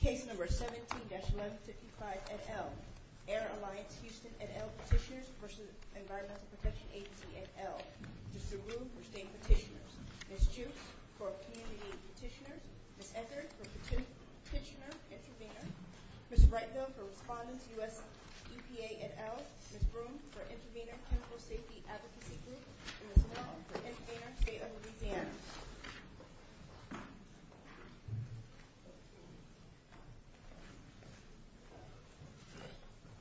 Case No. 17-155 et al. Air Alliance Houston et al. Petitioners v. Environmental Protection Agency et al. Mr. Ruhl for the same petitioners. Ms. Duke for Community Petitioners. Ms. Eckert for Petitioner Intervenors. Ms. Ratner for Respondents U.S. EPA et al. Ms. Broome for Intervenor Clinical Safety Applications. Ms. Waller for Intervenor State of Louisiana. Thank you. Thank you. Thank you. Thank you. Thank you. Thank you.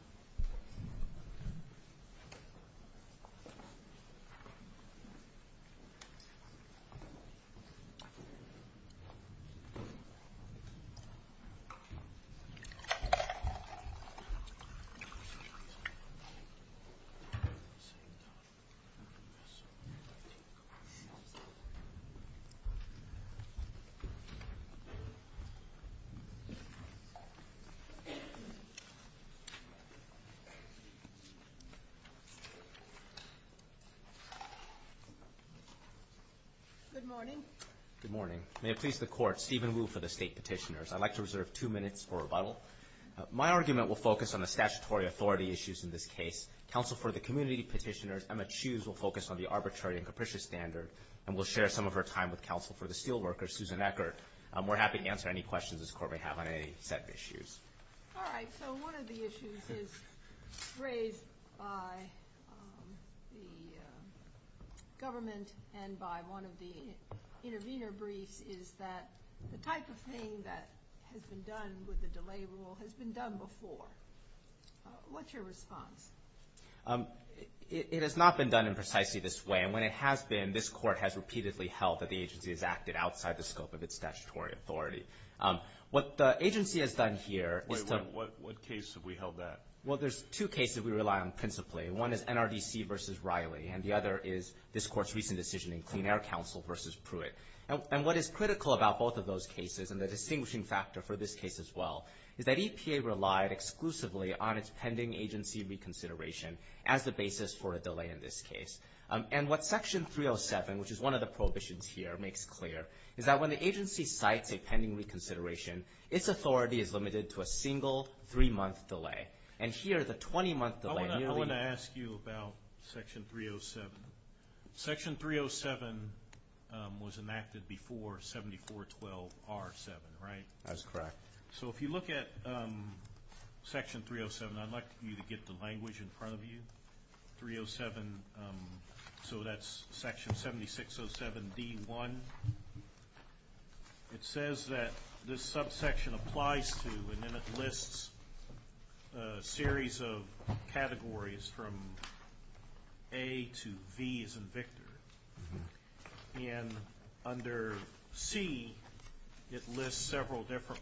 Thank you. Thank you. Thank you. Thank you. Thank you. Good morning. Good morning. May it please the Court, Stephen Wu for the State Petitioners. I'd like to reserve two minutes for rebuttal. My argument will focus on the statutory authority issues in this case. Counsel for the Community Petitioners, Emma Chews, will focus on the arbitrary and capricious standard and will share some of her time with Counsel for the Steelworkers, Susan Eckert. We're happy to answer any questions this Court may have on any said issues. All right. So one of the issues is raised by the government and by one of the intervenor briefs is that the type of thing that has been done with the delay rule has been done before. What's your response? It has not been done in precisely this way. And when it has been, this Court has repeatedly held that the agency has acted outside the scope of its statutory authority. What the agency has done here is that – Wait, what case have we held that? Well, there's two cases we rely on principally. One is NRDC versus Riley, and the other is this Court's recent decision in Clean Air Counsel versus Pruitt. And what is critical about both of those cases, and the distinguishing factor for this case as well, is that EPA relied exclusively on its pending agency reconsideration as the basis for a delay in this case. And what Section 307, which is one of the prohibitions here, makes clear, is that when the agency cites a pending reconsideration, its authority is limited to a single three-month delay. And here is a 20-month delay. I want to ask you about Section 307. Section 307 was enacted before 7412R7, right? That's correct. So if you look at Section 307, I'd like you to get the language in front of you. 307, so that's Section 7607D1. It says that this subsection applies to, and then it lists a series of categories from A to B as a victor. And under C, it lists several different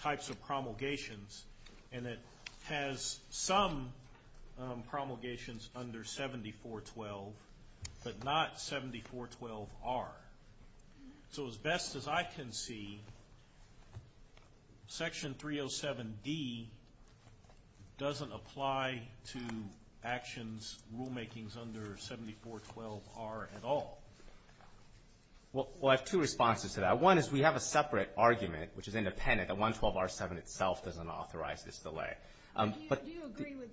types of promulgations, and it has some promulgations under 7412, but not 7412R. So as best as I can see, Section 307D doesn't apply to actions, rulemakings under 7412R at all. Well, I have two responses to that. One is we have a separate argument, which is independent, that 112R7 itself doesn't authorize this delay. Do you agree with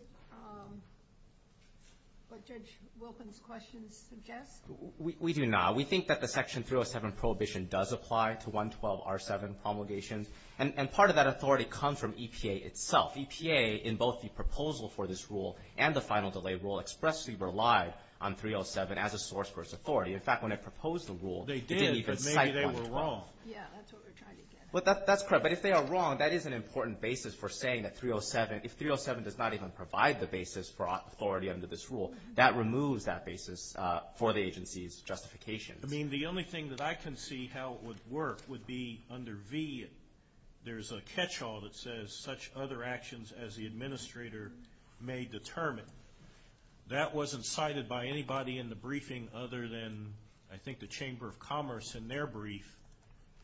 what Judge Wilkin's question suggests? We do not. We think that the Section 307 prohibition does apply to 112R7 promulgations, and part of that authority comes from EPA itself. EPA, in both the proposal for this rule and the final delay rule, expressly relied on 307 as a source for its authority. In fact, when it proposed the rule, it didn't even cite it on its own. They did, but maybe they were wrong. Yeah, that's what we're trying to get at. That's correct, but if they are wrong, that is an important basis for saying that 307, if 307 does not even provide the basis for authority under this rule, that removes that basis for the agency's justification. I mean, the only thing that I can see how it would work would be under V, there's a catch-all that says, such other actions as the administrator may determine. That wasn't cited by anybody in the briefing other than, I think, the Chamber of Commerce in their brief,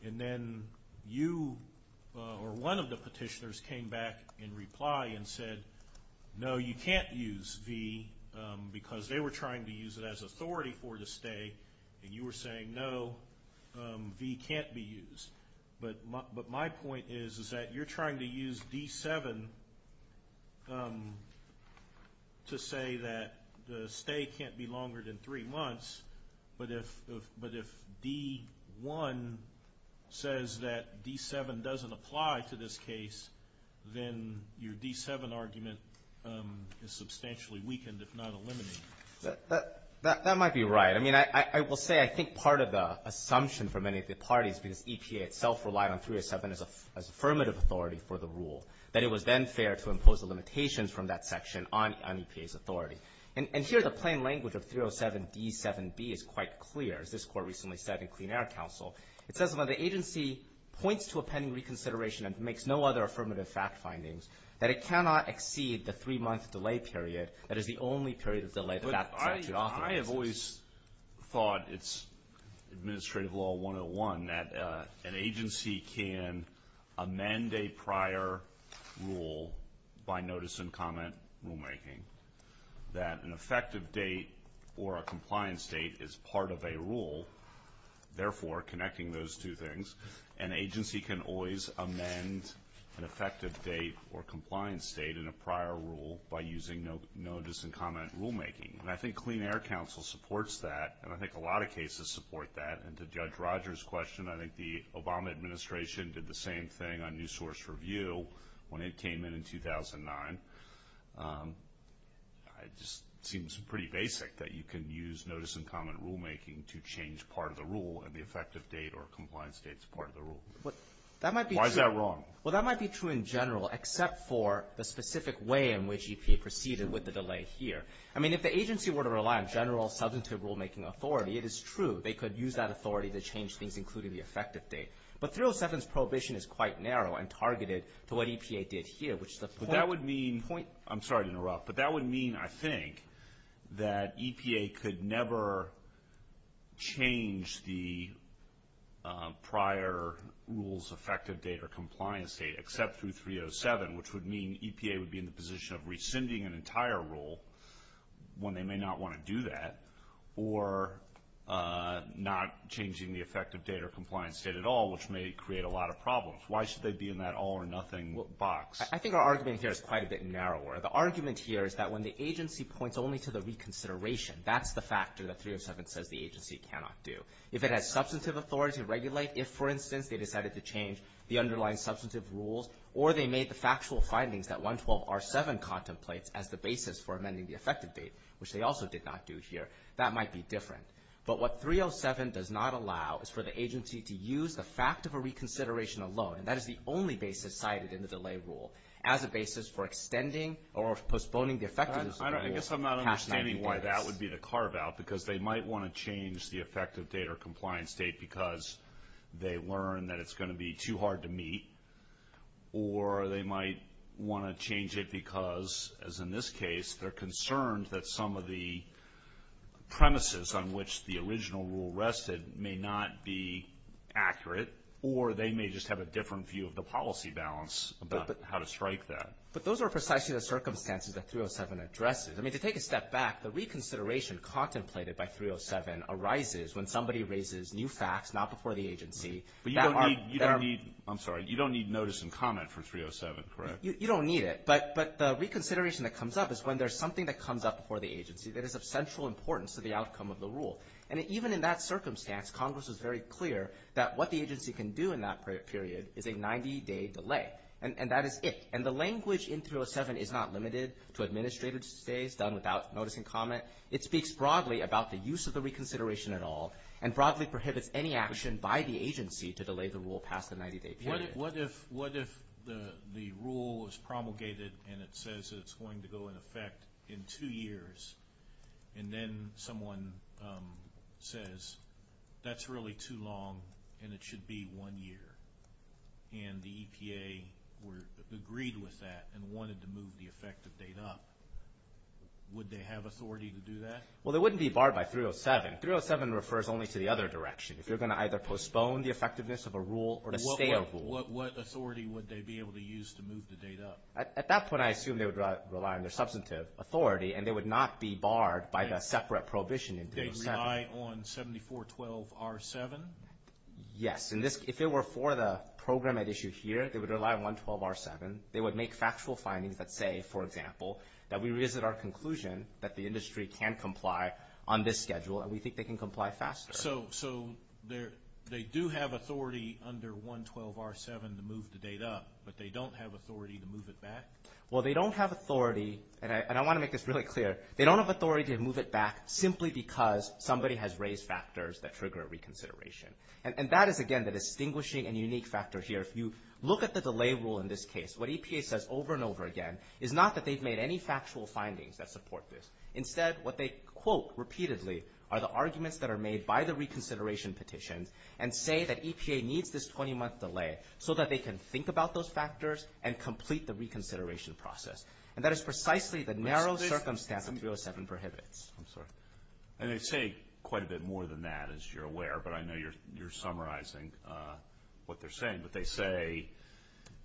and then you or one of the petitioners came back in reply and said, no, you can't use V, because they were trying to use it as authority for the stay, and you were saying, no, V can't be used. But my point is that you're trying to use D7 to say that the stay can't be longer than three months, but if D1 says that D7 doesn't apply to this case, then your D7 argument is substantially weakened, if not eliminated. That might be right. I mean, I will say I think part of the assumption for many of the parties, because EPA itself relied on 307 as affirmative authority for the rule, that it was then fair to impose a limitation from that section on EPA's authority. And here the plain language of 307D7B is quite clear, as this court recently said in Clean Air Council. It says, well, if the agency points to a pending reconsideration and makes no other affirmative fact findings, that it cannot exceed the three-month delay period that is the only period of delay that that statute offers. I have always thought it's administrative law 101 that an agency can amend a prior rule by notice and comment rulemaking, therefore connecting those two things. An agency can always amend an effective date or compliance date in a prior rule by using notice and comment rulemaking. And I think Clean Air Council supports that, and I think a lot of cases support that. And to Judge Rogers' question, I think the Obama administration did the same thing on new source review when it came in in 2009. It just seems pretty basic that you can use notice and comment rulemaking to change part of the rule and the effective date or compliance date is part of the rule. Why is that wrong? Well, that might be true in general except for the specific way in which EPA proceeded with the delay here. I mean, if the agency were to rely on general substantive rulemaking authority, it is true. They could use that authority to change things, including the effective date. But 307's prohibition is quite narrow and targeted to what EPA did here, which is the point. But that would mean, I'm sorry to interrupt, but that would mean, I think, that EPA could never change the prior rules, effective date or compliance date, except through 307, which would mean EPA would be in the position of rescinding an entire rule when they may not want to do that, or not changing the effective date or compliance date at all, which may create a lot of problems. Why should they be in that all or nothing box? I think our argument here is quite a bit narrower. The argument here is that when the agency points only to the reconsideration, that's the factor that 307 says the agency cannot do. If it has substantive authority to regulate, if, for instance, they decided to change the underlying substantive rules or they made the factual findings that 112R7 contemplates as the basis for amending the effective date, which they also did not do here, that might be different. But what 307 does not allow is for the agency to use the fact of a reconsideration alone, and that is the only basis cited in the delay rule, as a basis for extending or postponing the effectiveness of the rule. I guess I'm not understanding why that would be the carve out, because they might want to change the effective date or compliance date because they learn that it's going to be too hard to meet, or they might want to change it because, as in this case, they're concerned that some of the premises on which the original rule rested may not be accurate, or they may just have a different view of the policy balance about how to strike that. But those are precisely the circumstances that 307 addresses. I mean, to take a step back, the reconsideration contemplated by 307 arises when somebody raises new facts, not before the agency. You don't need notice and comment from 307, correct? You don't need it. But the reconsideration that comes up is when there's something that comes up before the agency that is of central importance to the outcome of the rule. And even in that circumstance, Congress is very clear that what the agency can do in that period is a 90-day delay. And that is it. And the language in 307 is not limited to administrative stays done without notice and comment. It speaks broadly about the use of the reconsideration at all, and broadly prohibits any action by the agency to delay the rule past the 90-day period. What if the rule is promulgated and it says it's going to go into effect in two years, and then someone says, that's really too long and it should be one year. And the EPA agreed with that and wanted to move the effective date up. Would they have authority to do that? Well, they wouldn't be barred by 307. 307 refers only to the other direction. If you're going to either postpone the effectiveness of a rule or to stay a rule. What authority would they be able to use to move the date up? At that point, I assume they would rely on their substantive authority, and they would not be barred by the separate prohibition in 307. They would rely on 7412R7? Yes. And if it were for the program at issue here, they would rely on 112R7. They would make factual findings that say, for example, that we revisit our conclusion that the industry can comply on this schedule, and we think they can comply faster. So they do have authority under 112R7 to move the date up, but they don't have authority to move it back? Well, they don't have authority, and I want to make this really clear, they don't have authority to move it back simply because somebody has raised factors that trigger a reconsideration. And that is, again, the distinguishing and unique factor here. If you look at the delay rule in this case, what EPA says over and over again is not that they've made any factual findings that support this. Instead, what they quote repeatedly are the arguments that are made by the reconsideration petition and say that EPA needs this 20-month delay so that they can think about those factors and complete the reconsideration process. And that is precisely the narrow circumstance that 307 prohibits. I'm sorry. And they say quite a bit more than that, as you're aware, but I know you're summarizing what they're saying, that they say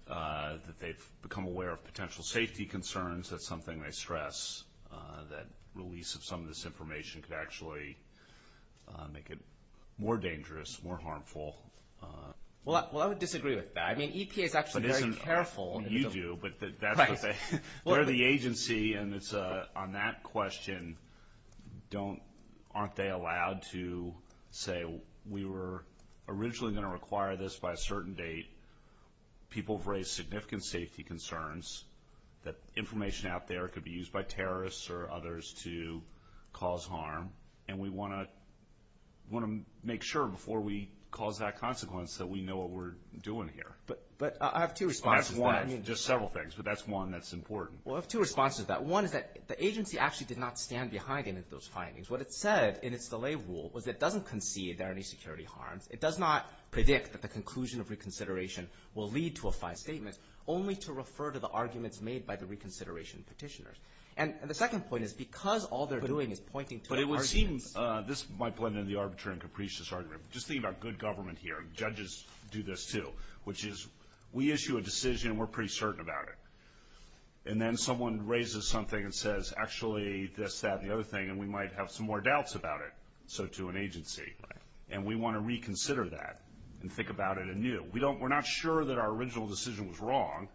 that they've become aware of potential safety concerns. That's something they stress, that the release of some of this information could actually make it more dangerous, more harmful. Well, I would disagree with that. I mean, EPA got to be very careful. You do, but they're the agency. And on that question, aren't they allowed to say, we were originally going to require this by a certain date. People have raised significant safety concerns that information out there could be used by terrorists or others to cause harm. And we want to make sure before we cause that consequence that we know what we're doing here. But I have two responses to that. Just several things, but that's one that's important. Well, I have two responses to that. One is that the agency actually did not stand behind any of those findings. What it said in its delay rule was it doesn't concede there are any security harms. It does not predict that the conclusion of reconsideration will lead to a fine statement, only to refer to the arguments made by the reconsideration petitioners. And the second point is because all they're doing is pointing to the argument. This might blend in the arbitrary and capricious argument. Just think about good government here. Judges do this too, which is we issue a decision. We're pretty certain about it. And then someone raises something and says, actually, that's that and the other thing, and we might have some more doubts about it. So to an agency. And we want to reconsider that and think about it anew. We're not sure that our original decision was wrong,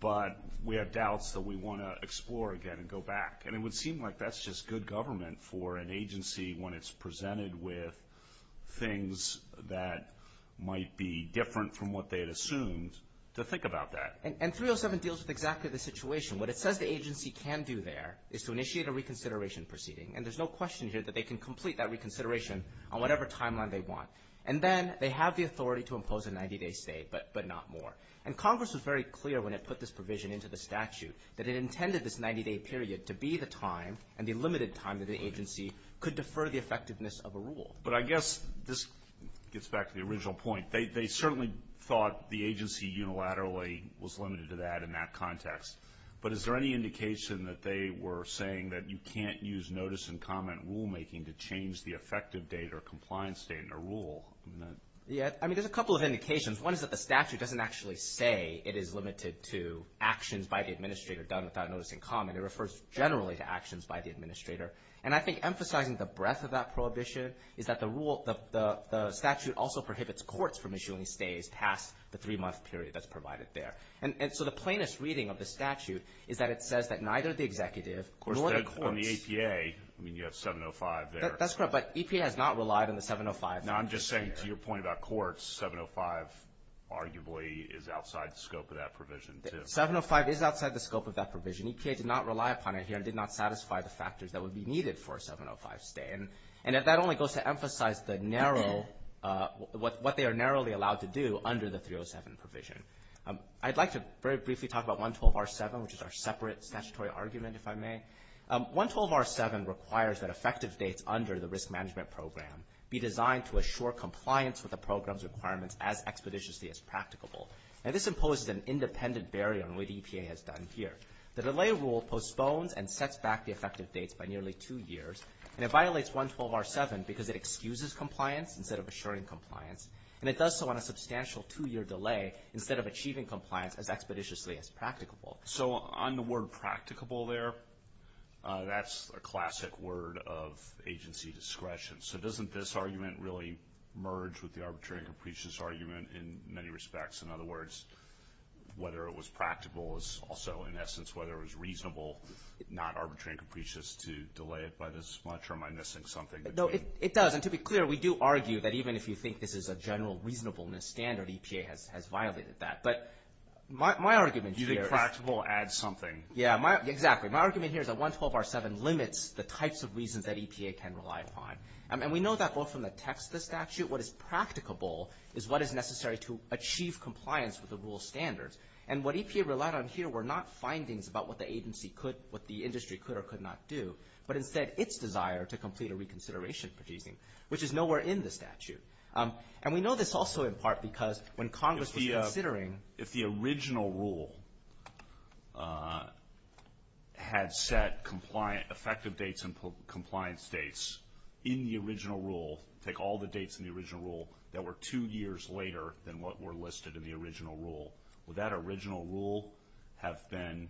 but we have doubts that we want to explore again and go back. And it would seem like that's just good government for an agency when it's presented with things that might be different from what they'd assumed to think about that. And 307 deals with exactly the situation. What it says the agency can do there is to initiate a reconsideration proceeding. And there's no question here that they can complete that reconsideration on whatever timeline they want. And then they have the authority to impose a 90-day stay, but not more. And Congress was very clear when it put this provision into the statute that it intended this 90-day period to be the time and the limited time that the agency could defer the effectiveness of a rule. But I guess this gets back to the original point. They certainly thought the agency unilaterally was limited to that in that context. But is there any indication that they were saying that you can't use notice and comment rulemaking to change the effective date or compliance date in a rule? Yeah. I mean, there's a couple of indications. One is that the statute doesn't actually say it is limited to actions by the administrator done without notice and comment. It refers generally to actions by the administrator. And I think emphasizing the breadth of that prohibition is that the statute also prohibits courts from issuing stays past the three-month period that's provided there. And so the plainest reading of the statute is that it says that neither the executive nor the courts. On the APA, you have 705 there. That's correct. But APA has not relied on the 705. I'm just saying to your point about courts, 705 arguably is outside the scope of that provision, too. 705 is outside the scope of that provision. EPA did not rely upon it here and did not satisfy the factors that would be needed for a 705 stay. And that only goes to emphasize what they are narrowly allowed to do under the 307 provision. I'd like to very briefly talk about 112R7, which is our separate statutory argument, if I may. 112R7 requires that effective dates under the risk management program be designed to assure compliance with the program's requirements as expeditiously as practicable. And this imposes an independent barrier on what EPA has done here. The delay rule postponed and sets back the effective dates by nearly two years. And it violates 112R7 because it excuses compliance instead of assuring compliance. And it does so on a substantial two-year delay instead of achieving compliance as expeditiously as practicable. So on the word practicable there, that's a classic word of agency discretion. So doesn't this argument really merge with the arbitrary and capricious argument in many respects? In other words, whether it was practical is also, in essence, whether it was reasonable, not arbitrary and capricious to delay it by this much, or am I missing something? No, it does. And to be clear, we do argue that even if you think this is a general reasonableness standard, EPA has violated that. But my argument here – Using practical adds something. Yeah, exactly. My argument here is that 112R7 limits the types of reasons that EPA can rely upon. And we know that both from the text of the statute, what is practicable is what is necessary to achieve compliance with the rule standards. And what EPA relied on here were not findings about what the agency could, what the industry could or could not do, but instead its desire to complete a reconsideration proceeding, which is nowhere in the statute. And we know this also in part because when Congress was considering – effective dates and compliance dates in the original rule, take all the dates in the original rule that were two years later than what were listed in the original rule. Would that original rule have been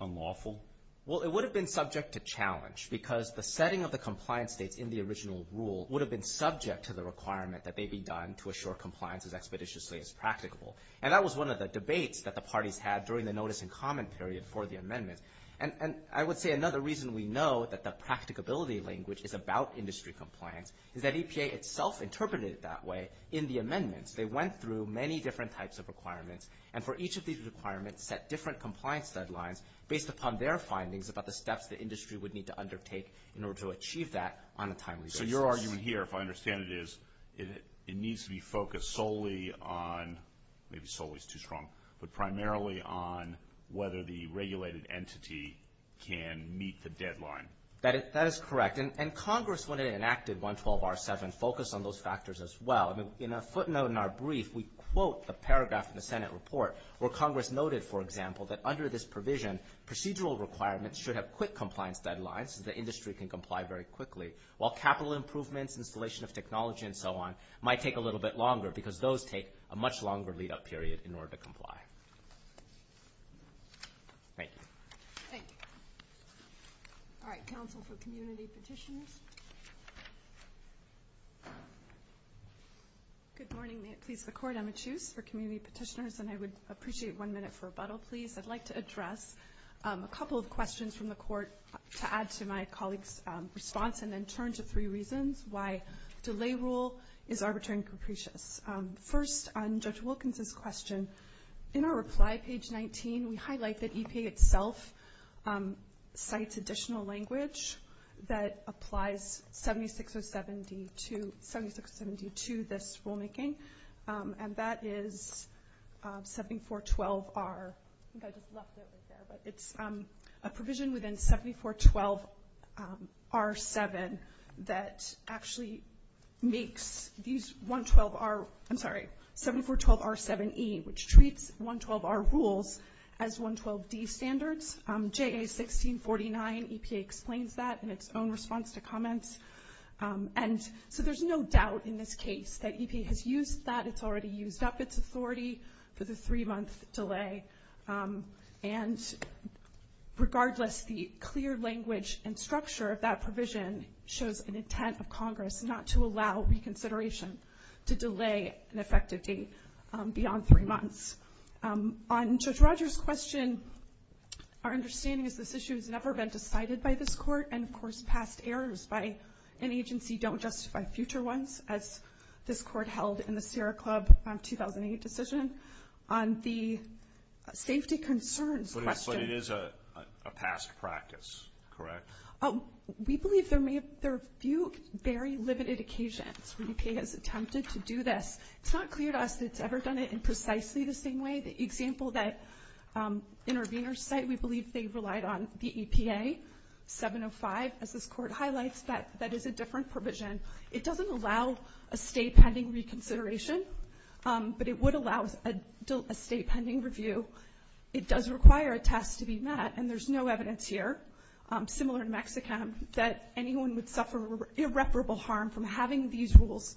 unlawful? Well, it would have been subject to challenge because the setting of the compliance date in the original rule would have been subject to the requirement that may be done to assure compliance as expeditiously as practicable. And that was one of the debates that the parties had during the notice and comment period for the amendment. And I would say another reason we know that the practicability language is about industry compliance is that EPA itself interpreted it that way in the amendments. They went through many different types of requirements. And for each of these requirements set different compliance deadlines based upon their findings about the steps the industry would need to undertake in order to achieve that on a timely basis. So your argument here, if I understand it, is it needs to be focused solely on – maybe solely is too strong – but whether the regulated entity can meet the deadline. That is correct. And Congress, when it enacted 112R7, focused on those factors as well. In a footnote in our brief, we quote the paragraph in the Senate report where Congress noted, for example, that under this provision, procedural requirements should have quick compliance deadlines so the industry can comply very quickly, while capital improvements, installation of technology and so on might take a little bit longer because those take a much longer lead-up period in order to comply. Thank you. Thank you. All right. Counsel for community petitioners. Good morning. May it please the Court. I'm a judge for community petitioners, and I would appreciate one minute for rebuttal, please. I'd like to address a couple of questions from the Court to add to my colleague's response and then turn to three reasons why delay rule is overturning capricious. First, on Judge Wilkinson's question, in our reply, page 19, we highlight that EPA itself cites additional language that applies 76072 to this rulemaking, and that is 7412R. I think I just left it. It's a provision within 7412R7 that actually makes these 112R – I'm sorry, 7412R7E, which treats 112R rules as 112D standards. JA1649, EPA explains that in its own response to comments. And so there's no doubt in this case that EPA has used that. It's already used up its authority for the three-month delay. And regardless, the clear language and structure of that provision shows an intent of Congress not to allow reconsideration to delay an effective date beyond three months. On Judge Rogers' question, our understanding is this issue has never been decided by this Court, and, of course, past errors by an agency don't justify future ones, as this Court held in the Sarah Club 2008 decision. On the safety concerns question – So it is a past practice, correct? We believe there are a few very limited occasions where EPA has attempted to do this. It's not clear to us that it's ever done it in precisely the same way. The example that interveners cite, we believe they relied on the EPA 705. As this Court highlights, that is a different provision. It doesn't allow a state-pending reconsideration, but it would allow a state-pending review. It does require a task to be met. And there's no evidence here, similar in Mexico, that anyone would suffer irreparable harm from having these rules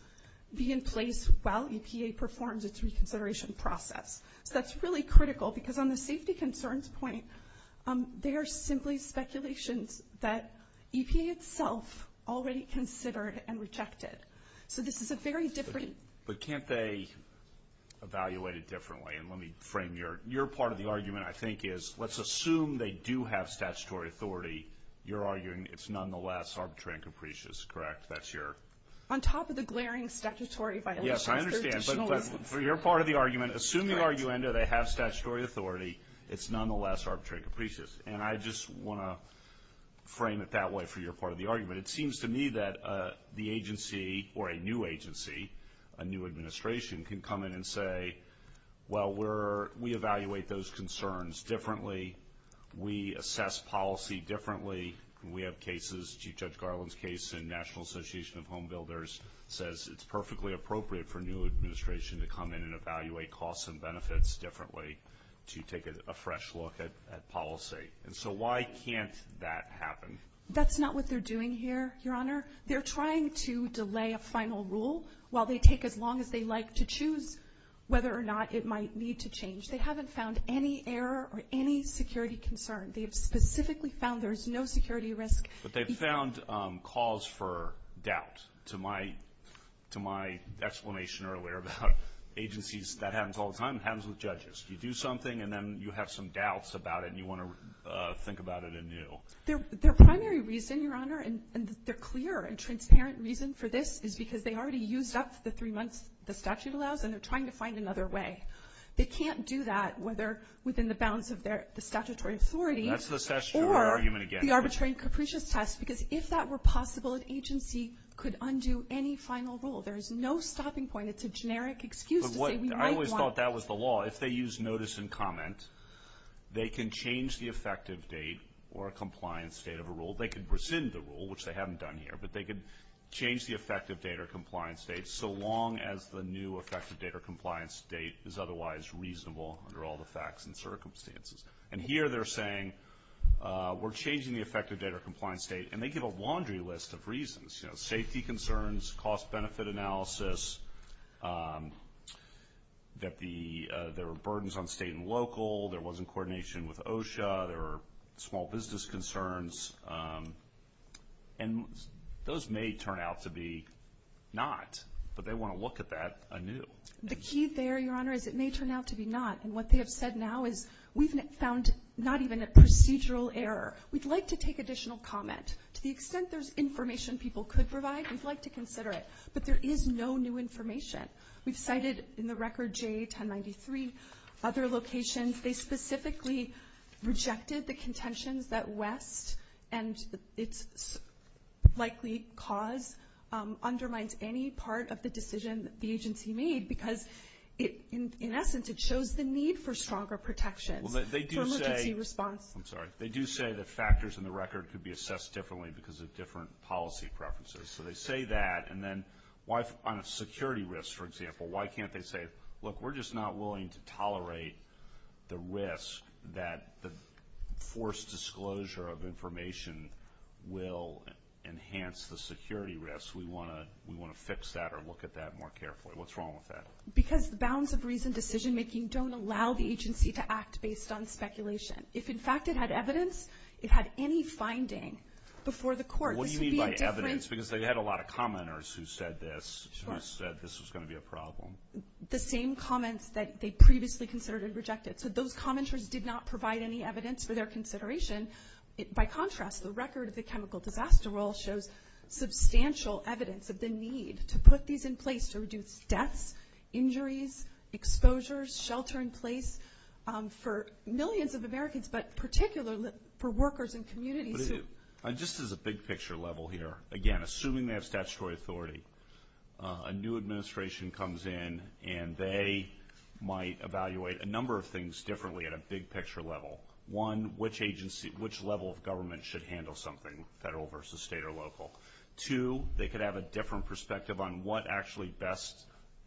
be in place while EPA performs its reconsideration process. That's really critical, because on the safety concerns point, there's simply speculations that EPA itself already considered and rejected. So this is a very different – But can't they evaluate it differently? And let me frame your – your part of the argument, I think, is let's assume they do have statutory authority. You're arguing it's nonetheless arbitrary and capricious, correct? That's your – On top of the glaring statutory violation. Yes, I understand. But for your part of the argument, assume the argument that it has statutory authority, it's nonetheless arbitrary and capricious. And I just want to frame it that way for your part of the argument. It seems to me that the agency – or a new agency, a new administration can come in and say, well, we're – we evaluate those concerns differently. We assess policy differently. We have cases – Chief Judge Garland's case in National Association of Homebuilders says it's perfectly appropriate for a new administration to come in and evaluate costs and benefits differently to take a fresh look at policy. And so why can't that happen? That's not what they're doing here, Your Honor. They're trying to delay a final rule while they take as long as they like to choose whether or not it might need to change. They haven't found any error or any security concern. They've specifically found there's no security risk. But they've found cause for doubt. To my – to my explanation earlier about agencies, that happens all the time. It happens with judges. You do something and then you have some doubts about it and you want to think about it anew. Their primary reason, Your Honor, and their clear and transparent reason for this is because they already used up the three months the statute allows and they're trying to find another way. They can't do that whether within the bounds of their statutory authority. That's the statutory argument again. Or the arbitrary and capricious test. Because if that were possible, an agency could undo any final rule. There is no stopping point. It's a generic excuse that they might want. I always thought that was the law. If they use notice and comment, they can change the effective date or compliance date of a rule. They could rescind the rule, which they haven't done here. But they could change the effective date or compliance date so long as the new effective date or compliance date is otherwise reasonable under all the facts and circumstances. And here they're saying we're changing the effective date or compliance date. And they give a laundry list of reasons, you know, safety concerns, cost benefit analysis, that there were burdens on state and local, there wasn't coordination with OSHA, there were small business concerns. And those may turn out to be not. But they want to look at that anew. The key there, Your Honor, is it may turn out to be not. And what they have said now is we've found not even a procedural error. We'd like to take additional comment. To the extent there's information people could provide, we'd like to consider it. But there is no new information. We've cited in the record J1093, other locations. They specifically rejected the contention that West and its likely cause undermines any part of the decision the agency made because, in essence, it shows the need for stronger protection. They do say that factors in the record could be assessed differently because of different policy preferences. So they say that. And then on a security risk, for example, why can't they say, look, we're just not willing to tolerate the risk that the forced disclosure of information will enhance the security risk. We want to fix that or look at that more carefully. What's wrong with that? Because bounds of reason decision-making don't allow the agency to act based on speculation. If, in fact, it had evidence, it had any finding before the court. What do you mean by evidence? Because they had a lot of commenters who said this, who said this was going to be a problem. The same comments that they previously considered and rejected. So those commenters did not provide any evidence for their consideration. By contrast, the record of the chemical disaster role shows substantial evidence of the need to put these in place to reduce deaths, injuries, exposures, shelter in place for millions of Americans, but particularly for workers and communities. Just as a big-picture level here, again, assuming they have statutory authority, a new administration comes in and they might evaluate a number of things differently at a big-picture level. One, which level of government should handle something, federal versus state or local? Two, they could have a different perspective on what actually best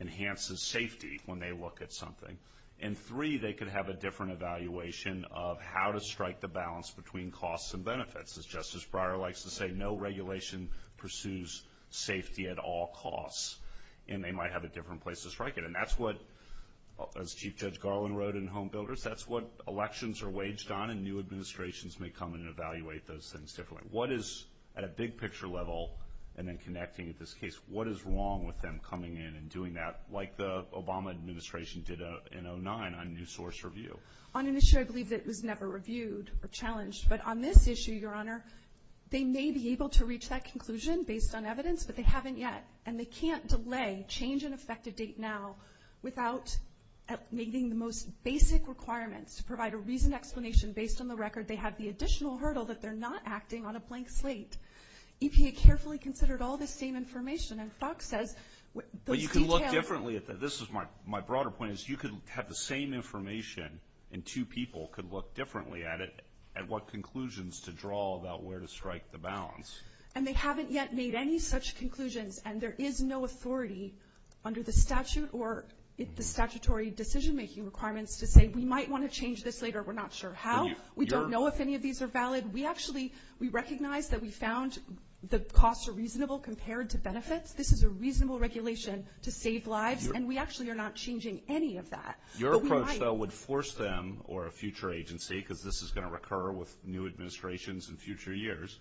enhances safety when they look at something. And three, they could have a different evaluation of how to strike the balance between costs and benefits. As Justice Breyer likes to say, no regulation pursues safety at all costs, and they might have a different place to strike it. And that's what, as Chief Judge Garland wrote in Home Builders, that's what elections are waged on, and new administrations may come in and evaluate those things differently. What is, at a big-picture level, and then connecting at this case, what is wrong with them coming in and doing that like the Obama administration did in 2009 on new source review? On an issue I believe that was never reviewed or challenged, but on this issue, Your Honor, they may be able to reach that conclusion based on evidence, but they haven't yet, and they can't delay change in effective date now without meeting the most basic requirements to provide a reasoned explanation based on the record. They have the additional hurdle that they're not acting on a blank slate. EPA carefully considered all this same information, as Doc said. But you can look differently at this. My broader point is you can have the same information and two people can look differently at it and what conclusions to draw about where to strike the balance. And they haven't yet made any such conclusions, and there is no authority under the statute or the statutory decision-making requirements to say, we might want to change this later, we're not sure how. We don't know if any of these are valid. We actually recognize that we found the costs are reasonable compared to benefits. This is a reasonable regulation to save lives, and we actually are not changing any of that. Your approach, though, would force them or a future agency, because this is going to recur with new administrations in future years,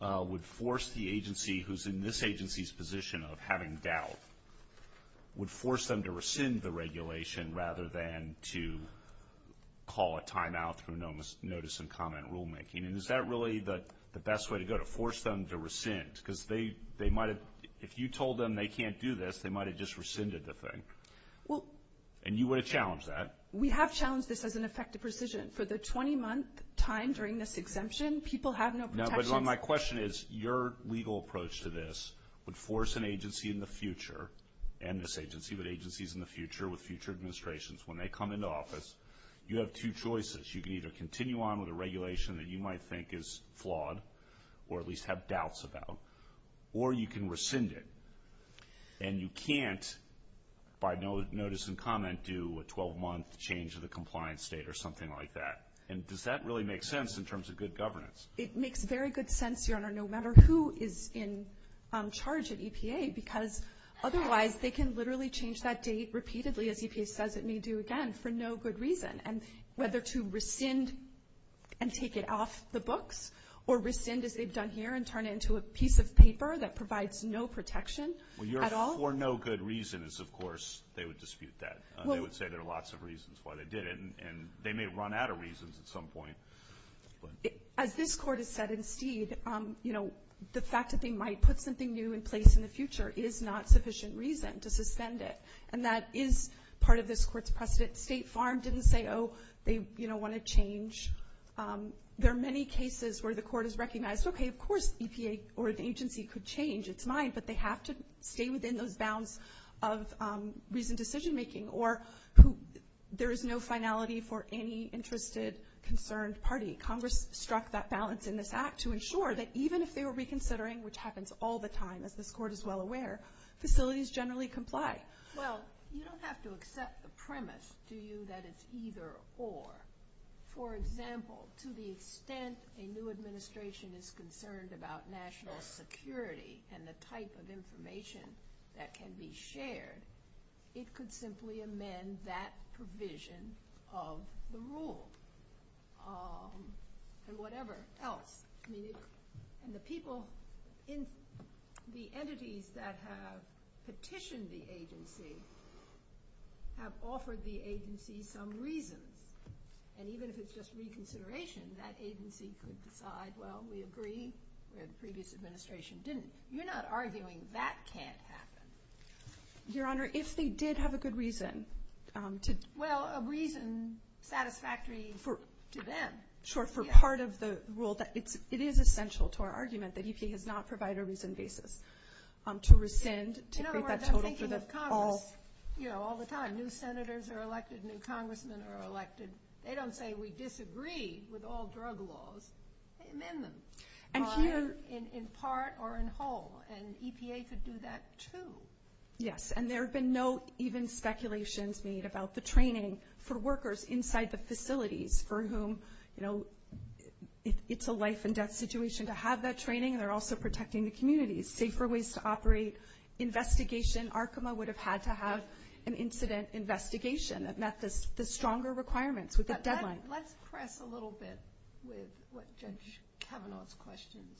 would force the agency who's in this agency's position of having doubt, would force them to rescind the regulation rather than to call a timeout through notice and comment rulemaking. And is that really the best way to go, to force them to rescind? Because if you told them they can't do this, they might have just rescinded the thing. And you would have challenged that. We have challenged this as an effective decision. For the 20-month time during this exemption, people have no protection. My question is, your legal approach to this would force an agency in the future, and this agency, but agencies in the future with future administrations, when they come into office, you have two choices. You can either continue on with a regulation that you might think is flawed or at least have doubts about, or you can rescind it. And you can't, by notice and comment, do a 12-month change of the compliance date or something like that. And does that really make sense in terms of good governance? It makes very good sense, Your Honor, no matter who is in charge of EPA, because otherwise they can literally change that date repeatedly, as EPA says it may do again, for no good reason. And whether to rescind and take it off the books, or rescind as they've done here and turn it into a piece of paper that provides no protection at all. For no good reason is, of course, they would dispute that. They would say there are lots of reasons why they did it, and they may have run out of reasons at some point. As this Court has said in Seed, the fact that they might put something new in place in the future is not sufficient reason to suspend it. And that is part of this Court's precedent. State Farm didn't say, oh, they want to change. There are many cases where the Court has recognized, okay, of course EPA or an agency could change its mind, but they have to stay within those bounds of reasoned decision-making or there is no finality for any interested, concerned party. Congress struck that balance in this Act to ensure that even if they were reconsidering, which happens all the time, as this Court is well aware, facilities generally comply. Well, you don't have to accept the premise, do you, that it's either or. For example, to the extent a new administration is concerned about national security and the type of information that can be shared, it could simply amend that provision of the rules or whatever else. And the people in the entities that have petitioned the agency have offered the agency some reason. And even if it's just reconsideration, that agency could decide, well, we agree, or the previous administration didn't. You're not arguing that can't happen. Your Honor, if they did have a good reason. Well, a reason satisfactory to them. Sure, for part of the rule, it is essential to our argument that EPA has not provided a reason basis to rescind, to create that total through this call. In other words, I'm thinking of Congress all the time. New senators are elected, new congressmen are elected. They don't say we disagree with all drug laws. They amend them in part or in whole, and EPA could do that too. Yes, and there have been no even speculations made about the training for workers inside the facilities for whom, you know, it's a life and death situation to have that training. They're also protecting the community. Safer ways to operate investigation. Arkema would have had to have an incident investigation that met the stronger requirements with the deadline. Let's press a little bit with what Judge Kavanaugh's questions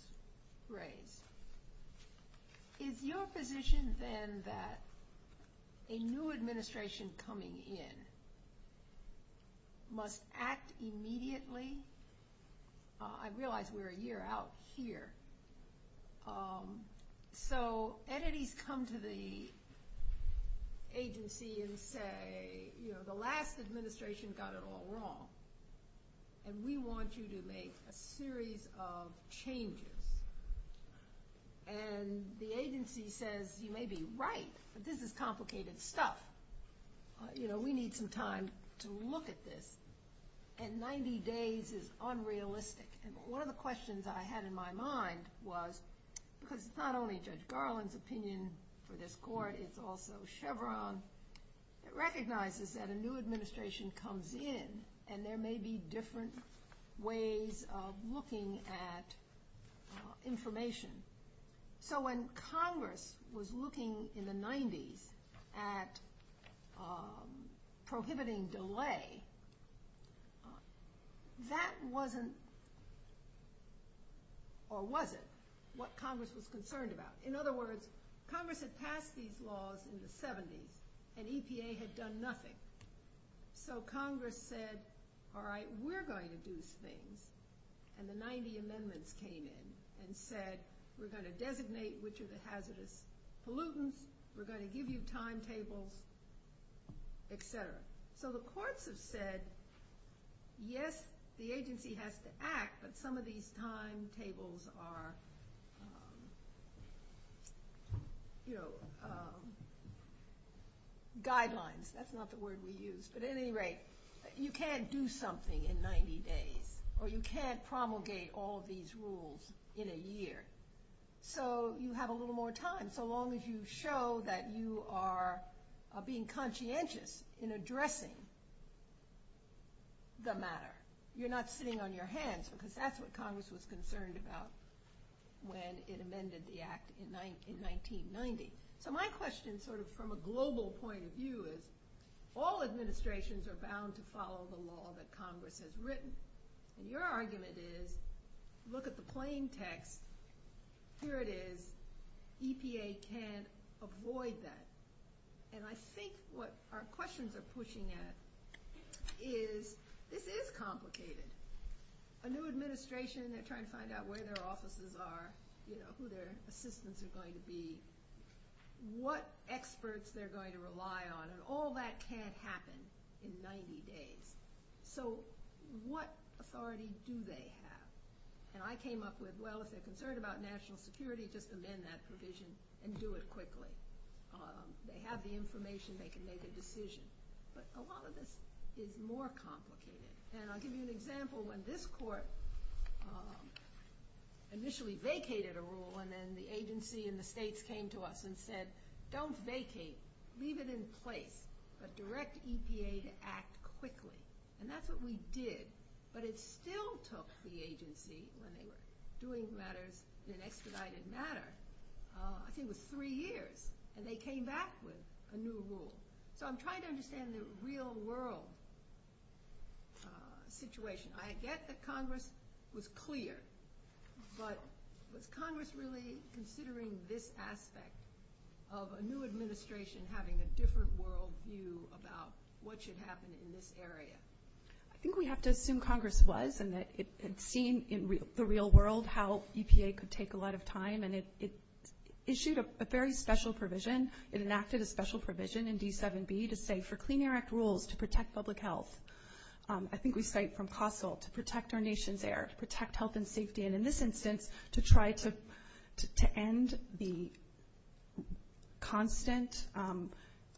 raise. Is your position then that a new administration coming in must act immediately? I realize we're a year out here. So entities come to the agency and say, you know, the last administration got it all wrong, and we want you to make a series of changes. And the agency says, you may be right, but this is complicated stuff. You know, we need some time to look at this, and 90 days is unrealistic. And one of the questions I had in my mind was, because it's not only Judge Garland's opinion for this court, it's also Chevron. It recognizes that a new administration comes in, and there may be different ways of looking at information. So when Congress was looking in the 90s at prohibiting delay, that wasn't, or wasn't, what Congress was concerned about. In other words, Congress had passed these laws in the 70s, and EPA had done nothing. So Congress said, all right, we're going to do things. And the 90 amendments came in and said, we're going to designate which are the hazardous pollutants, we're going to give you timetables, et cetera. So the courts have said, yes, the agency has to act, but some of these timetables are, you know, guidelines. That's not the word we use. But at any rate, you can't do something in 90 days, or you can't promulgate all of these rules in a year. So you have a little more time, so long as you show that you are being conscientious in addressing the matter. You're not sitting on your hands, because that's what Congress was concerned about when it amended the Act in 1990. So my question sort of from a global point of view is, all administrations are bound to follow the law that Congress has written. And your argument is, look at the plain text. Here it is. EPA can't avoid that. And I think what our questions are pushing at is this is complicated. A new administration, they're trying to find out where their offices are, you know, who their assistants are going to be, what experts they're going to rely on, and all that can't happen in 90 days. So what authority do they have? And I came up with, well, if they're concerned about national security, they can submit that provision and do it quickly. They have the information, they can make a decision. But a lot of this is more complicated. And I'll give you an example. When this court initially vacated a rule, and then the agency and the states came to us and said, don't vacate, leave it in place, but direct EPA to act quickly. And that's what we did. But it still took the agency, when they were doing matters in expedited matters, I think it was three years, and they came back with a new rule. So I'm trying to understand the real-world situation. I get that Congress was clear, but was Congress really considering this aspect of a new administration having a different worldview about what should happen in this area? I think we have to assume Congress was, and that it had seen in the real world how EPA could take a lot of time. And it issued a very special provision. It enacted a special provision in D7B to say, for Clean Air Act rules, to protect public health. I think we cite from COSTEL, to protect our nation's air, to protect health and safety, and in this instance, to try to end the constant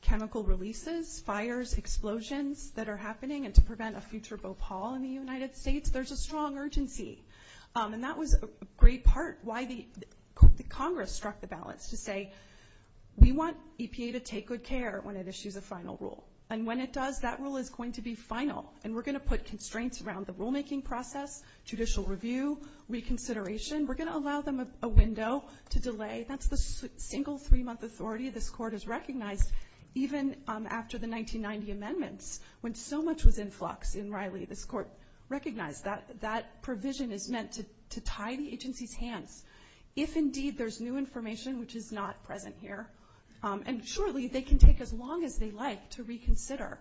chemical releases, fires, explosions that are happening, and to prevent a future Bhopal in the United States, there's a strong urgency. And that was a great part why the Congress struck the balance to say, we want EPA to take good care when it issues a final rule. And when it does, that rule is going to be final. And we're going to put constraints around the rulemaking process, judicial review, reconsideration. We're going to allow them a window to delay. That's the single three-month authority this court has recognized, even after the 1990 amendments, when so much was in flux in Riley, this court recognized that that provision is meant to tie the agency's hands. If, indeed, there's new information which is not present here, and surely they can take as long as they like to reconsider.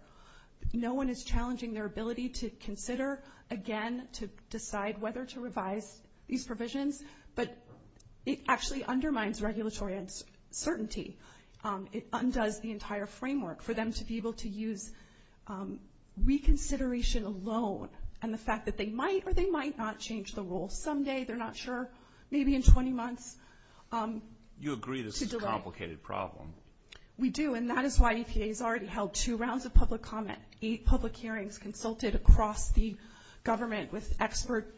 No one is challenging their ability to consider again, to decide whether to revise these provisions, but it actually undermines regulatory uncertainty. It undoes the entire framework for them to be able to use reconsideration alone, and the fact that they might or they might not change the rule someday, they're not sure, maybe in 20 months. You agree this is a complicated problem. We do, and that is why EPA has already held two rounds of public comment, eight public hearings consulted across the government with experts,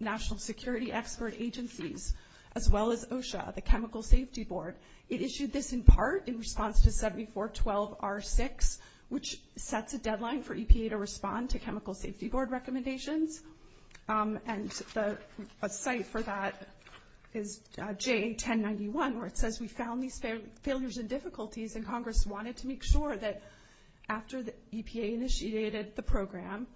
national security expert agencies, as well as OSHA, the Chemical Safety Board. It issued this in part in response to 7412R6, which sets a deadline for EPA to respond to Chemical Safety Board recommendations, and a site for that is J1091, where it says, we found these failures and difficulties, and Congress wanted to make sure that after the EPA initiated the program,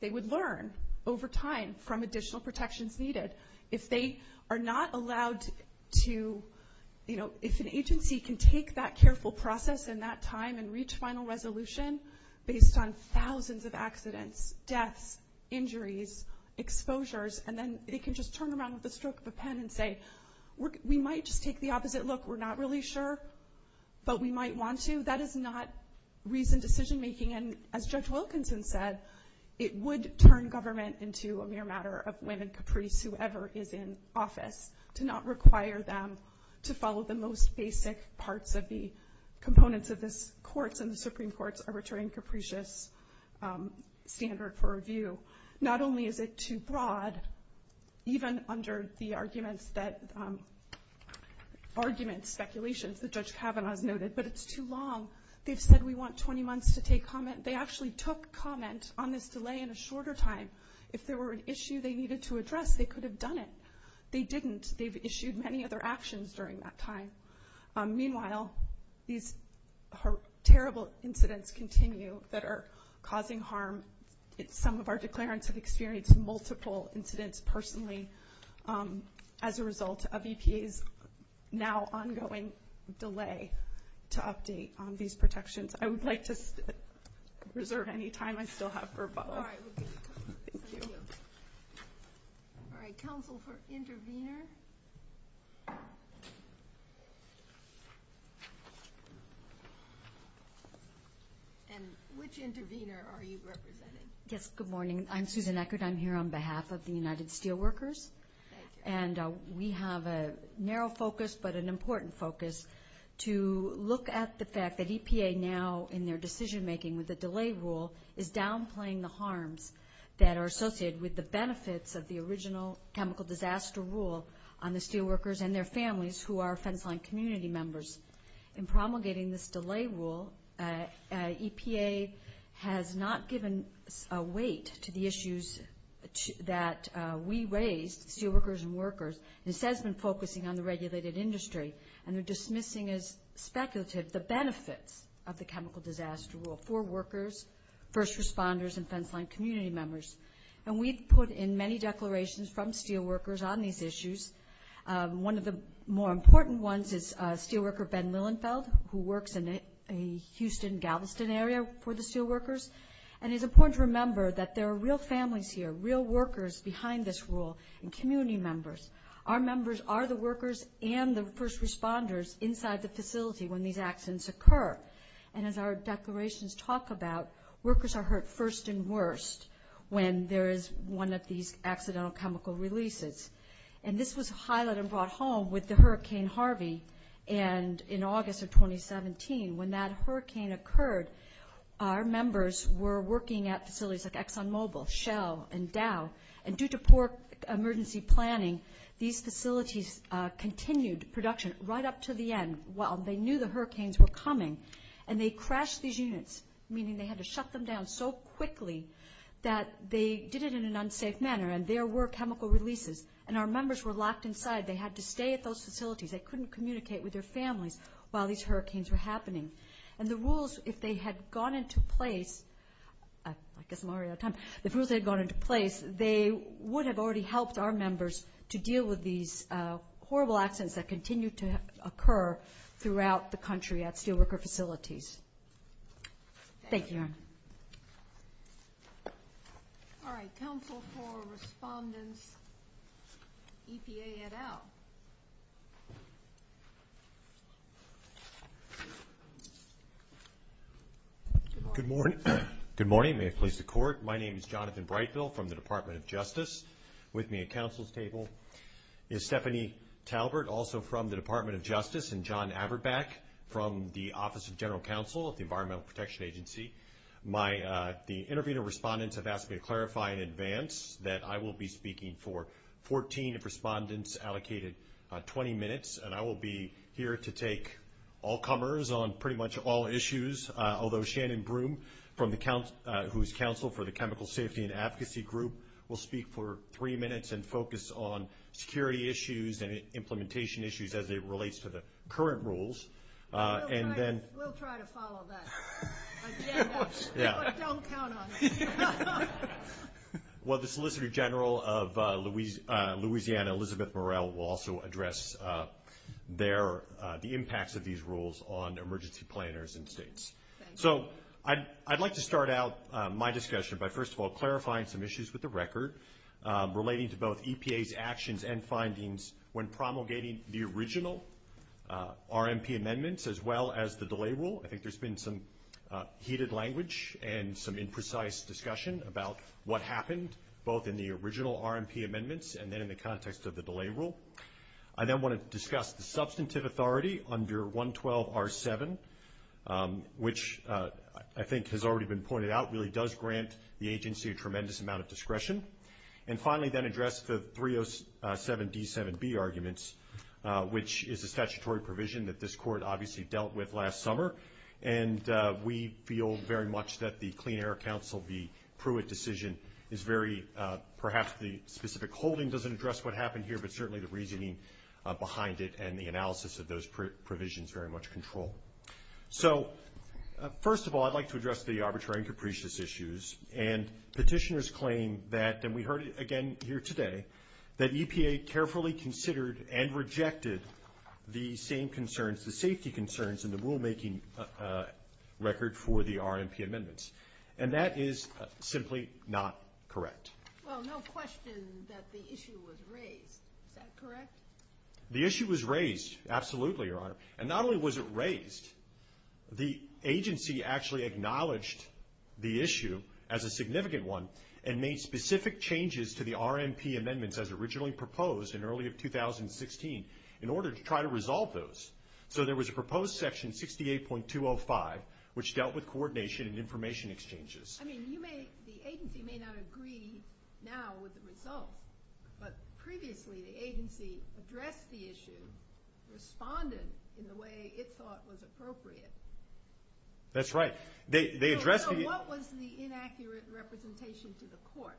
they would learn over time from additional protections needed. If they are not allowed to, you know, if an agency can take that careful process and that time and reach final resolution, based on thousands of accidents, deaths, injuries, exposures, and then they can just turn around with a stroke of a pen and say, we might just take the opposite look. We're not really sure, but we might want to. That is not reasoned decision making, and as Judge Wilkinson said, it would turn government into a mere matter of Len and Caprice, whoever is in office, to not require them to follow the most basic parts of the components of this course in the Supreme Court's Arbitrary and Capricious Standard for Review. Not only is it too broad, even under the arguments, speculations that Judge Kavanaugh noted, but it's too long. They've said we want 20 months to take comment. They actually took comment on this delay in a shorter time. If there were an issue they needed to address, they could have done it. They didn't. They've issued many other actions during that time. Meanwhile, these terrible incidents continue that are causing harm. Some of our declarants have experienced multiple incidents personally as a result of EPA's now ongoing delay to update on these protections. I would like to reserve any time I still have for a follow-up. All right. Counsel for intervenors. And which intervenor are you representing? Yes. Good morning. I'm Susan Eckert. I'm here on behalf of the United Steelworkers. And we have a narrow focus but an important focus to look at the fact that EPA now, in their decision-making with the delay rule, is downplaying the harms that are associated with the benefits of the original chemical disaster rule on the steelworkers and their families who are front-line community members. In promulgating this delay rule, EPA has not given weight to the issues that we raise, steelworkers and workers, and instead has been focusing on the regulated industry and are dismissing as speculative the benefits of the chemical disaster rule for workers, first responders, and front-line community members. And we've put in many declarations from steelworkers on these issues. One of the more important ones is steelworker Ben Lilienfeld, who works in the Houston-Galveston area for the steelworkers. And it's important to remember that there are real families here, real workers behind this rule, and community members. Our members are the workers and the first responders inside the facility when these accidents occur. And as our declarations talk about, workers are hurt first and worst when there is one of these accidental chemical releases. And this was highlighted and brought home with the Hurricane Harvey in August of 2017. When that hurricane occurred, our members were working at facilities like ExxonMobil, Shell, and Dow. And due to poor emergency planning, these facilities continued production right up to the end while they knew the hurricanes were coming, and they crashed these units, meaning they had to shut them down so quickly that they did it in an unsafe manner, and there were chemical releases, and our members were locked inside. They had to stay at those facilities. They couldn't communicate with their families while these hurricanes were happening. And the rules, if they had gone into place, I guess I'm already out of time, if the rules had gone into place, they would have already helped our members to deal with these horrible accidents that continue to occur throughout the country at steelworker facilities. Thank you. Thank you. All right. Counsel for Respondents, EPA et al. Good morning. Good morning. May it please the Court. My name is Jonathan Brightville from the Department of Justice. With me at counsel's table is Stephanie Talbert, also from the Department of Justice, and John Averbeck from the Office of General Counsel at the Environmental Protection Agency. The intervening respondents have asked me to clarify in advance that I will be speaking for 14 of respondents allocated 20 minutes, and I will be here to take all comers on pretty much all issues, although Shannon Broom, whose counsel for the Chemical Safety and Advocacy Group, will speak for three minutes and focus on security issues and implementation issues as it relates to the current rules. We'll try to follow that agenda, but don't count on it. Well, the Solicitor General of Louisiana, Elizabeth Morrell, will also address the impacts of these rules on emergency planners and states. So I'd like to start out my discussion by, first of all, clarifying some issues with the record, relating to both EPA's actions and findings when promulgating the original RMP amendments, as well as the delay rule. I think there's been some heated language and some imprecise discussion about what happened, both in the original RMP amendments and then in the context of the delay rule. I then want to discuss the substantive authority under 112R7, which I think has already been pointed out, really does grant the agency a tremendous amount of discretion. And finally, then address the 307D7B arguments, which is a statutory provision that this Court obviously dealt with last summer, and we feel very much that the Clean Air Council, the Pruitt decision is very, perhaps the specific holding doesn't address what happened here, but certainly the reasoning behind it and the analysis of those provisions very much control. So, first of all, I'd like to address the arbitrary and capricious issues. And petitioners claim that, and we heard it again here today, that EPA carefully considered and rejected the same concerns, the safety concerns in the rulemaking record for the RMP amendments. And that is simply not correct. Well, no question that the issue was raised. Is that correct? The issue was raised, absolutely, Your Honor. And not only was it raised, the agency actually acknowledged the issue as a significant one and made specific changes to the RMP amendments, as originally proposed in early of 2016, in order to try to resolve those. So there was a proposed Section 68.205, which dealt with coordination and information exchanges. I mean, you may, the agency may not agree now with the results, but previously the agency addressed the issue, responded in the way it thought was appropriate. That's right. So what was the inaccurate representation to the court?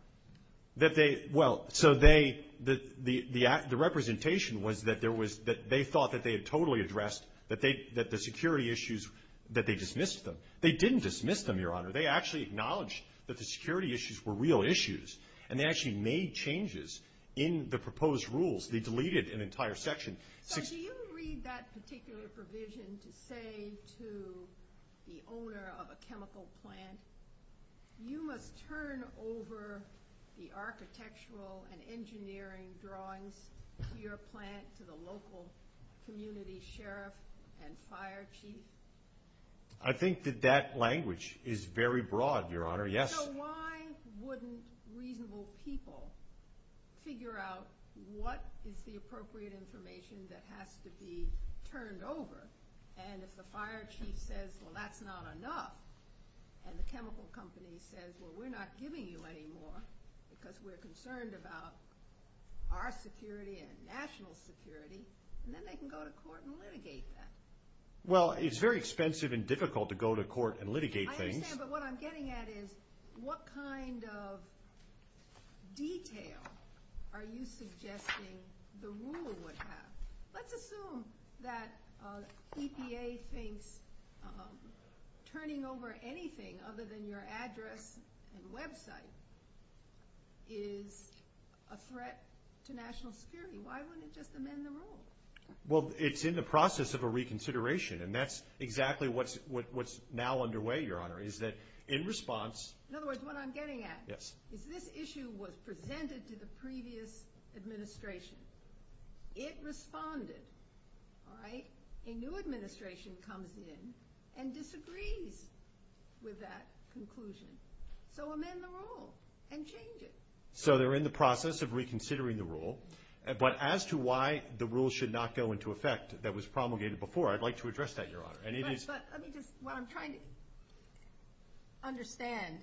That they, well, so they, the representation was that there was, that they thought that they had totally addressed, that the security issues, that they dismissed them. They didn't dismiss them, Your Honor. They actually acknowledged that the security issues were real issues and they actually made changes in the proposed rules. They deleted an entire section. So do you read that particular provision to say to the owner of a chemical plant, you must turn over the architectural and engineering drawings to your plant, to the local community sheriff and fire chief? I think that that language is very broad, Your Honor, yes. So why wouldn't reasonable people figure out what is the appropriate information that has to be turned over? And if the fire chief says, well, that's not enough, and the chemical company says, well, we're not giving you any more because we're concerned about our security and national security, then they can go to court and litigate that. Well, it's very expensive and difficult to go to court and litigate things. I understand, but what I'm getting at is what kind of detail are you suggesting the rule would have? Let's assume that EPA thinks turning over anything other than your address and website is a threat to national security. Why wouldn't it just amend the rule? Well, it's in the process of a reconsideration, and that's exactly what's now underway, Your Honor, is that in response – In other words, what I'm getting at is this issue was presented to the previous administration. It responded, all right? A new administration comes in and disagrees with that conclusion. So amend the rule and change it. So they're in the process of reconsidering the rule. But as to why the rule should not go into effect that was promulgated before, I'd like to address that, Your Honor. But what I'm trying to understand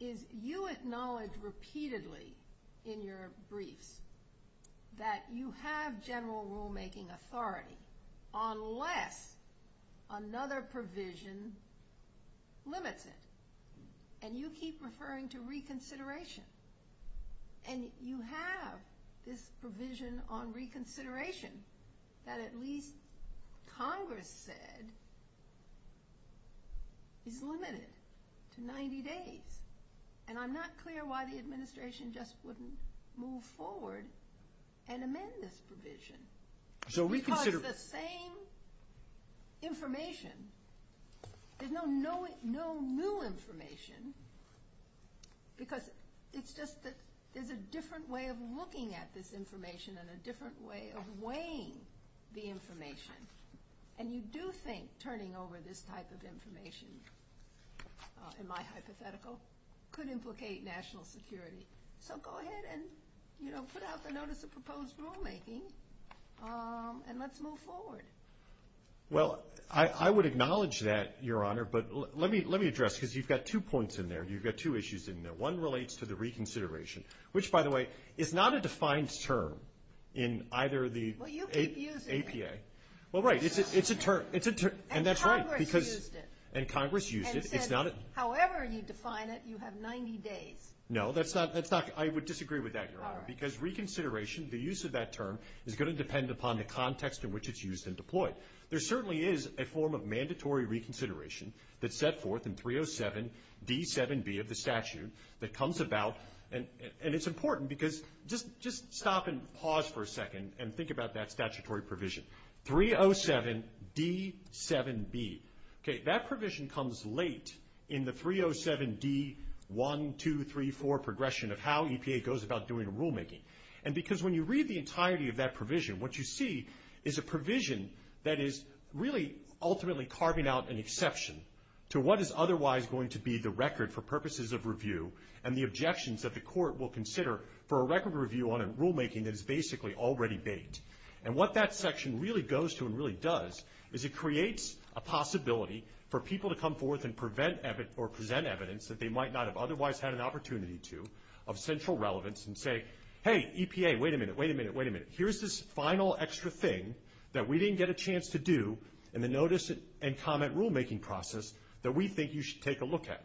is you acknowledge repeatedly in your brief that you have general rulemaking authority unless another provision limits it, and you keep referring to reconsideration. And you have this provision on reconsideration that at least Congress said is limited to 90 days. And I'm not clear why the administration just wouldn't move forward and amend this provision. Because the same information – there's no new information because it's just that there's a different way of looking at this information and a different way of weighing the information. And you do think turning over this type of information, in my hypothetical, could implicate national security. So go ahead and put out the notice of proposed rulemaking and let's move forward. Well, I would acknowledge that, Your Honor. But let me address, because you've got two points in there. You've got two issues in there. One relates to the reconsideration, which, by the way, is not a defined term in either the APA. Well, you keep using it. Well, right. It's a term. And that's right. And Congress used it. And Congress used it. However you define it, you have 90 days. No, that's not – I would disagree with that, Your Honor, because reconsideration, the use of that term, is going to depend upon the context in which it's used and deployed. There certainly is a form of mandatory reconsideration that's set forth in 307D7B of the statute that comes about. And it's important because – just stop and pause for a second and think about that statutory provision. 307D7B. Okay, that provision comes late in the 307D1234 progression of how EPA goes about doing rulemaking. And because when you read the entirety of that provision, what you see is a provision that is really ultimately carving out an exception to what is otherwise going to be the record for purposes of review and the objections that the court will consider for a record review on rulemaking that is basically already made. And what that section really goes to and really does is it creates a possibility for people to come forth and prevent or present evidence that they might not have otherwise had an opportunity to of central relevance and say, hey, EPA, wait a minute, wait a minute, wait a minute, here's this final extra thing that we didn't get a chance to do in the notice and comment rulemaking process that we think you should take a look at.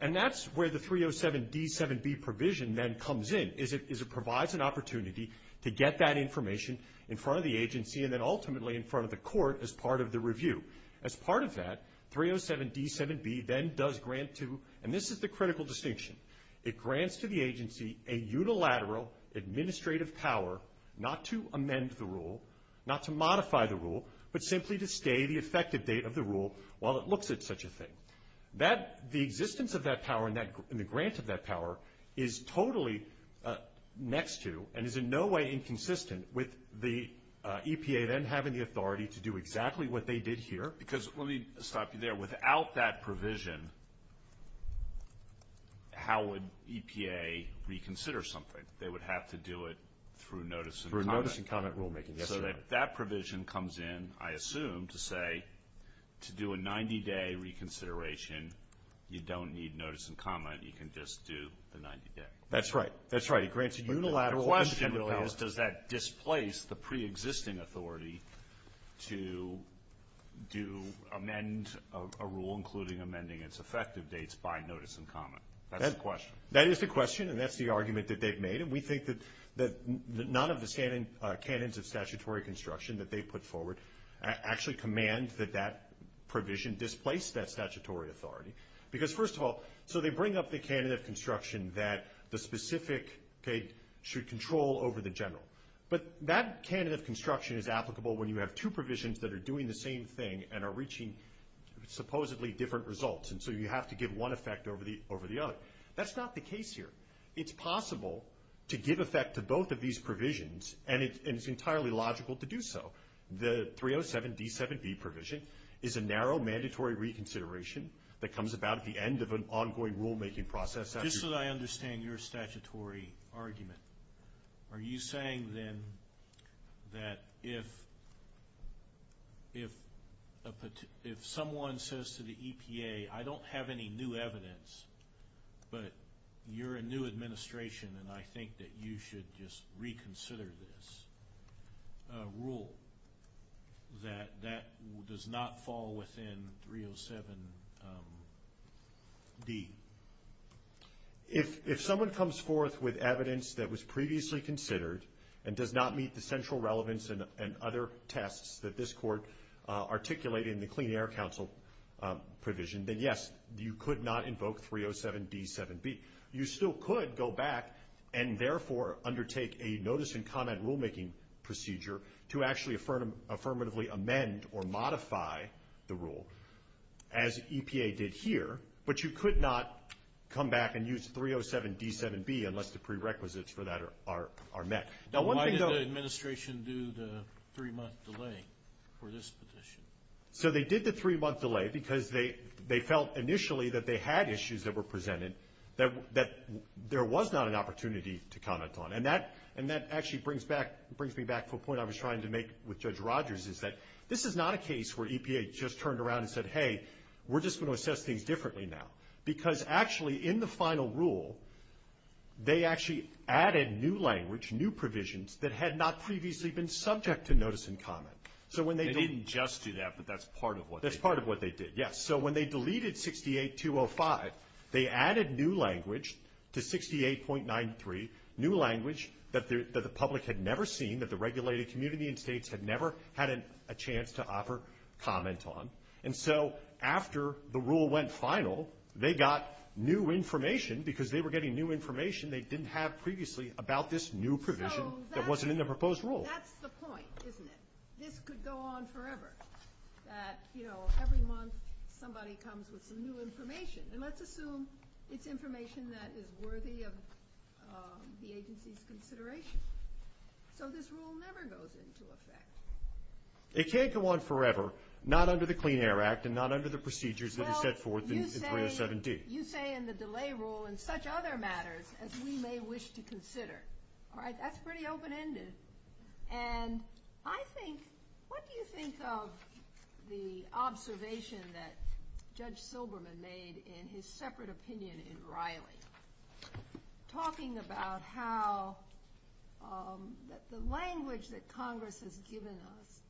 And that's where the 307D7B provision then comes in, is it provides an opportunity to get that information in front of the agency and then ultimately in front of the court as part of the review. As part of that, 307D7B then does grant to, and this is the critical distinction, it grants to the agency a unilateral administrative power not to amend the rule, not to modify the rule, but simply to stay the effective date of the rule while it looks at such a thing. The existence of that power and the grant of that power is totally next to and is in no way inconsistent with the EPA then having the authority to do exactly what they did here. Because let me stop you there. Without that provision, how would EPA reconsider something? They would have to do it through notice and comment. Through notice and comment rulemaking, yes. So that provision comes in, I assume, to say to do a 90-day reconsideration, you don't need notice and comment, you can just do a 90-day. That's right. That's right. It grants a unilateral administrative power. The question is, does that displace the preexisting authority to amend a rule, including amending its effective dates by notice and comment? That's the question. That is the question, and that's the argument that they've made. We think that none of the canons of statutory construction that they put forward actually command that that provision displace that statutory authority. Because, first of all, so they bring up the canon of construction that the specific date should control over the general. But that canon of construction is applicable when you have two provisions that are doing the same thing and are reaching supposedly different results, and so you have to give one effect over the other. That's not the case here. It's possible to give effect to both of these provisions, and it's entirely logical to do so. The 307D7B provision is a narrow mandatory reconsideration that comes about at the end of an ongoing rulemaking process. Just so I understand your statutory argument, are you saying then that if someone says to the EPA, I don't have any new evidence, but you're a new administration, and I think that you should just reconsider this rule, that that does not fall within 307B? If someone comes forth with evidence that was previously considered and does not meet the central relevance and other tests that this Court articulated in the Clean Air Council provision, then, yes, you could not invoke 307B7B. You still could go back and, therefore, undertake a notice-and-comment rulemaking procedure to actually affirmatively amend or modify the rule, as EPA did here, but you could not come back and use 307D7B unless the prerequisites for that are met. Why did the administration do the three-month delay for this petition? They did the three-month delay because they felt initially that they had issues that were presented that there was not an opportunity to comment on, and that actually brings me back to a point I was trying to make with Judge Rogers, is that this is not a case where EPA just turned around and said, hey, we're just going to assess things differently now, because actually in the final rule they actually added new language, new provisions, that had not previously been subject to notice-and-comment. They didn't just do that, but that's part of what they did. That's part of what they did, yes. So when they deleted 68205, they added new language to 68.93, new language that the public had never seen, that the regulated community and states had never had a chance to offer comment on. And so after the rule went final, they got new information, because they were getting new information they didn't have previously about this new provision that wasn't in the proposed rule. That's the point, isn't it? This could go on forever, that every month somebody comes with new information, and let's assume it's information that is worthy of the agency's consideration. So this rule never goes into effect? It can't go on forever, not under the Clean Air Act and not under the procedures that are set forth in WS7D. Well, you say in the delay rule, in such other matters as we may wish to consider. All right, that's pretty open-ended. And I think, what do you think of the observation that Judge Silberman made in his separate opinion in Riley, talking about how the language that Congress has given us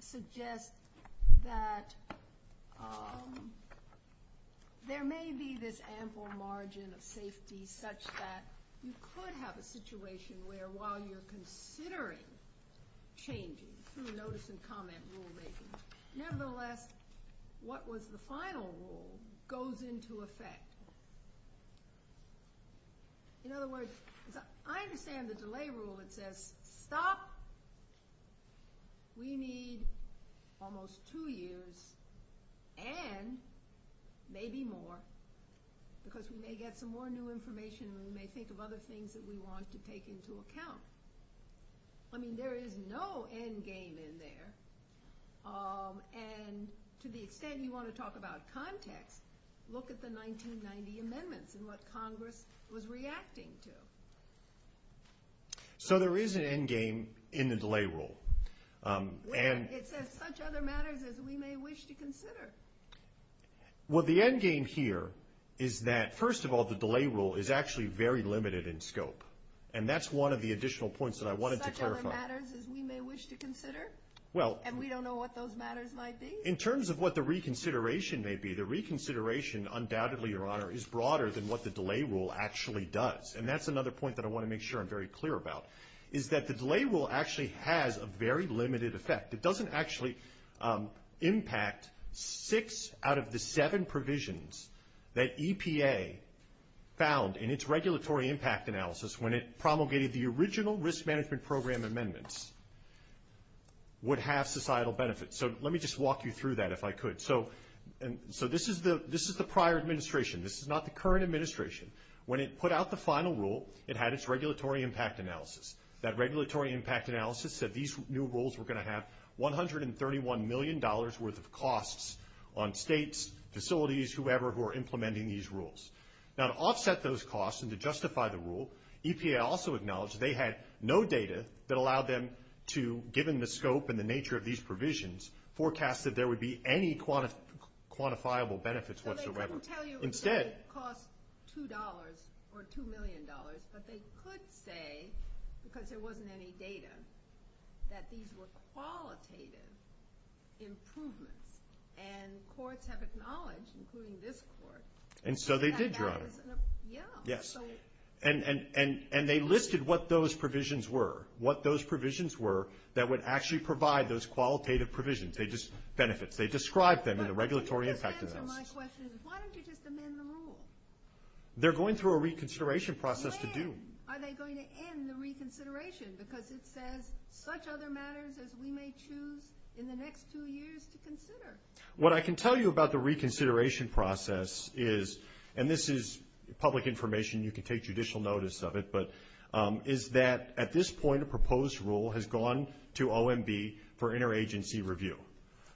suggests that there may be this ample margin of safety such that you could have a situation where while you're considering changes through notice and comment rulemaking, nevertheless, what was the final rule goes into effect. In other words, I understand the delay rule that says, stop, we need almost two years and maybe more, because we may get some more new information and we may think of other things that we want to take into account. I mean, there is no end game in there. And to the extent you want to talk about context, look at the 1990 amendments and what Congress was reacting to. So there is an end game in the delay rule. Yes, in such other matters as we may wish to consider. Well, the end game here is that, first of all, the delay rule is actually very limited in scope, and that's one of the additional points that I wanted to clarify. In such other matters as we may wish to consider? And we don't know what those matters might be? In terms of what the reconsideration may be, the reconsideration, undoubtedly, Your Honor, is broader than what the delay rule actually does. And that's another point that I want to make sure I'm very clear about, is that the delay rule actually has a very limited effect. It doesn't actually impact six out of the seven provisions that EPA found in its regulatory impact analysis when it promulgated the original risk management program amendments would have societal benefits. So let me just walk you through that, if I could. So this is the prior administration. This is not the current administration. When it put out the final rule, it had its regulatory impact analysis. That regulatory impact analysis said these new rules were going to have $131 million worth of costs on states, facilities, whoever who are implementing these rules. Now, to offset those costs and to justify the rule, EPA also acknowledged they had no data that allowed them to, given the scope and the nature of these provisions, forecast that there would be any quantifiable benefits whatsoever. But they didn't tell you it would cost $2 or $2 million. But they could say, because there wasn't any data, that these were qualitative improvements. And courts have acknowledged, including this court. And so they did draw them. Yes. And they listed what those provisions were, what those provisions were that would actually provide those qualitative provisions, benefits. They described them in the regulatory impact analysis. My question is, why don't you just amend the rule? They're going through a reconsideration process to do. When are they going to end the reconsideration? Because this says such other matters as we may choose in the next two years to consider. What I can tell you about the reconsideration process is, and this is public information. You can take judicial notice of it. But is that, at this point, a proposed rule has gone to OMB for interagency review.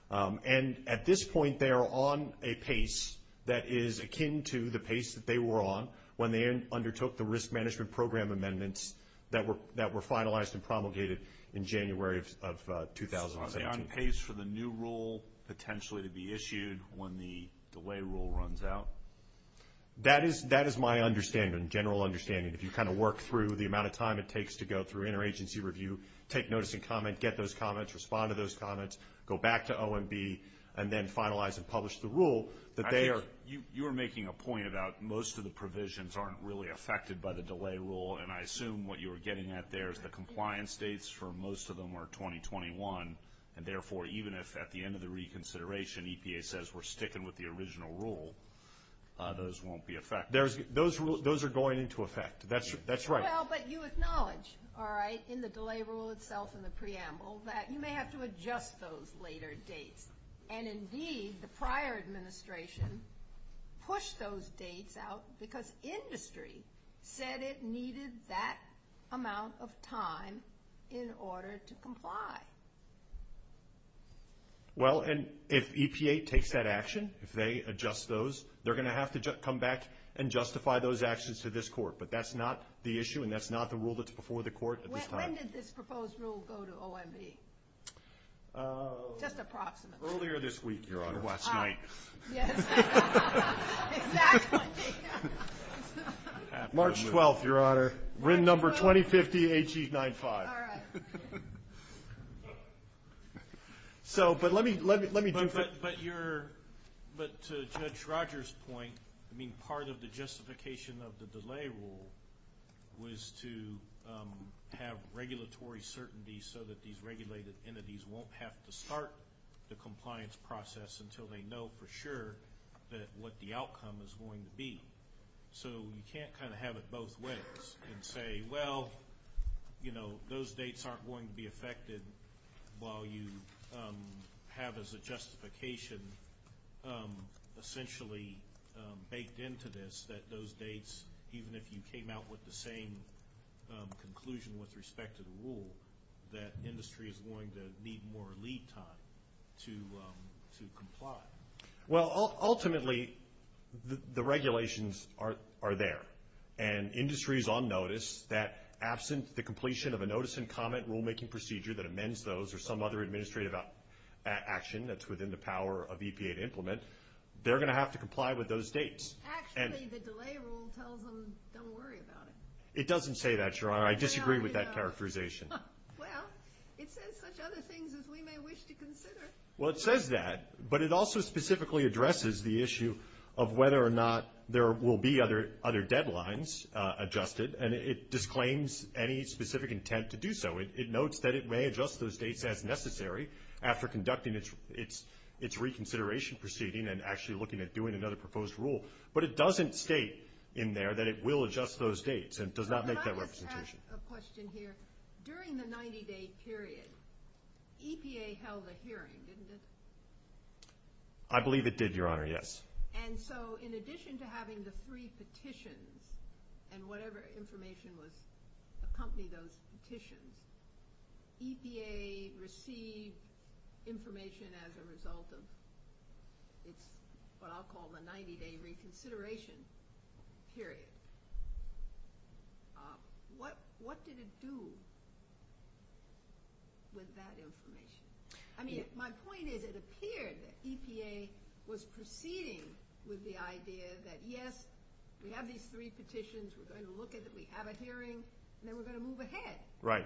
And at this point, they are on a pace that is akin to the pace that they were on when they undertook the risk management program amendments that were finalized and promulgated in January of 2018. Are they on pace for the new rule potentially to be issued when the delay rule runs out? That is my understanding, general understanding. If you kind of work through the amount of time it takes to go through interagency review, take notice and comment, get those comments, respond to those comments, go back to OMB, and then finalize and publish the rule. You were making a point about most of the provisions aren't really affected by the delay rule. And I assume what you were getting at there is the compliance dates for most of them are 2021, and therefore even if at the end of the reconsideration EPA says we're sticking with the original rule, those won't be affected. Those are going into effect. That's right. Well, but you acknowledged, all right, in the delay rule itself and the preamble that you may have to adjust those later dates. And indeed, the prior administration pushed those dates out because the industry said it needed that amount of time in order to comply. Well, and if EPA takes that action, if they adjust those, they're going to have to come back and justify those actions to this court. But that's not the issue, and that's not the rule that's before the court at this time. When did this proposed rule go to OMB? Just approximately. Earlier this week, Your Honor, last night. Exactly. March 12th, Your Honor. Written number 2050 HE95. All right. So, but let me do this. But to Judge Rogers' point, I mean, part of the justification of the delay rule was to have regulatory certainty so that these regulated entities won't have to start the compliance process until they know for sure what the outcome is going to be. So you can't kind of have it both ways and say, well, you know, those dates aren't going to be affected while you have as a justification essentially baked into this that those dates, even if you came out with the same conclusion with respect to the rule, that industry is going to need more lead time to comply. Well, ultimately, the regulations are there, and industry is on notice that absent the completion of a notice and comment rulemaking procedure that amends those or some other administrative action that's within the power of EPA to implement, they're going to have to comply with those dates. Actually, the delay rule tells them don't worry about it. It doesn't say that, Your Honor. I disagree with that characterization. Well, it says such other things as we may wish to consider. Well, it says that, but it also specifically addresses the issue of whether or not there will be other deadlines adjusted, and it disclaims any specific intent to do so. It notes that it may adjust those dates as necessary after conducting its reconsideration proceeding and actually looking at doing another proposed rule, but it doesn't state in there that it will adjust those dates and does not make that representation. Can I ask a question here? During the 90-day period, EPA held a hearing, didn't it? I believe it did, Your Honor, yes. And so in addition to having the three petitions and whatever information was accompanied of those petitions, EPA received information as a result of what I'll call the 90-day reconsideration period. What did it do with that information? I mean, my point is it appeared that EPA was proceeding with the idea that, yes, we have these three petitions, we're going to look at it, we have a hearing, and then we're going to move ahead. Right.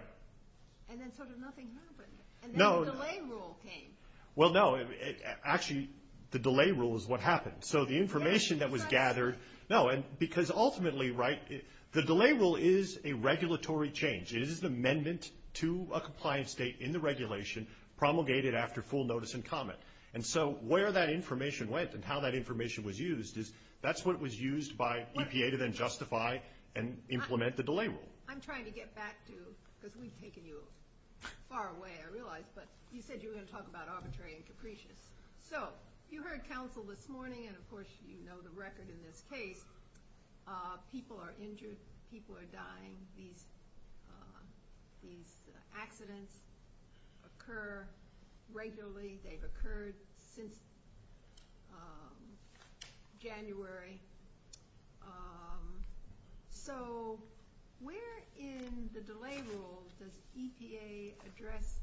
And then sort of nothing happened. No. And the delay rule came. Well, no. Actually, the delay rule is what happened. So the information that was gathered – no, because ultimately, right, the delay rule is a regulatory change. It is an amendment to a compliance date in the regulation promulgated after full notice and comment. And so where that information went and how that information was used is that's what was used by EPA to then justify and implement the delay rule. I'm trying to get back to – because we've taken you far away, I realize, but you said you were going to talk about arbitrary and capricious. So you heard counsel this morning, and, of course, you know the record in this case. People are injured. People are dying. These accidents occur regularly. They've occurred since January. So where in the delay rule does EPA address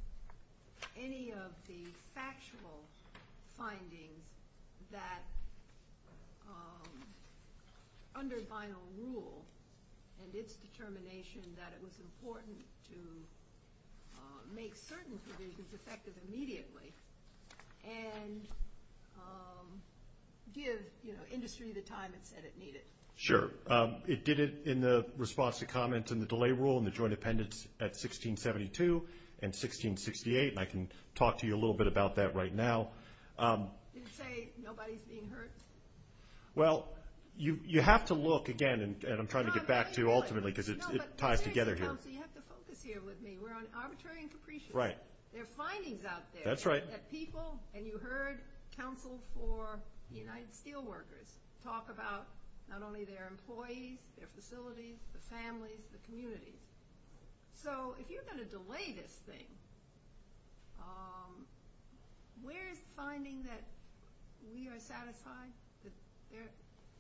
any of the factual findings that under vinyl rule and its determination that it was important to make certain provisions effective immediately and give industry the time it said it needed? Sure. It did it in the response to comments in the delay rule and the joint appendix at 1672 and 1668, and I can talk to you a little bit about that right now. Did it say nobody's being hurt? Well, you have to look again, and I'm trying to get back to you ultimately because it ties together here. No, but you have to focus here with me. We're on arbitrary and capricious. Right. There are findings out there. That's right. That people, and you heard counsel for the United Steelworkers talk about not only their employees, their facilities, the families, the communities. So if you're going to delay this thing, where is the finding that we are satisfied that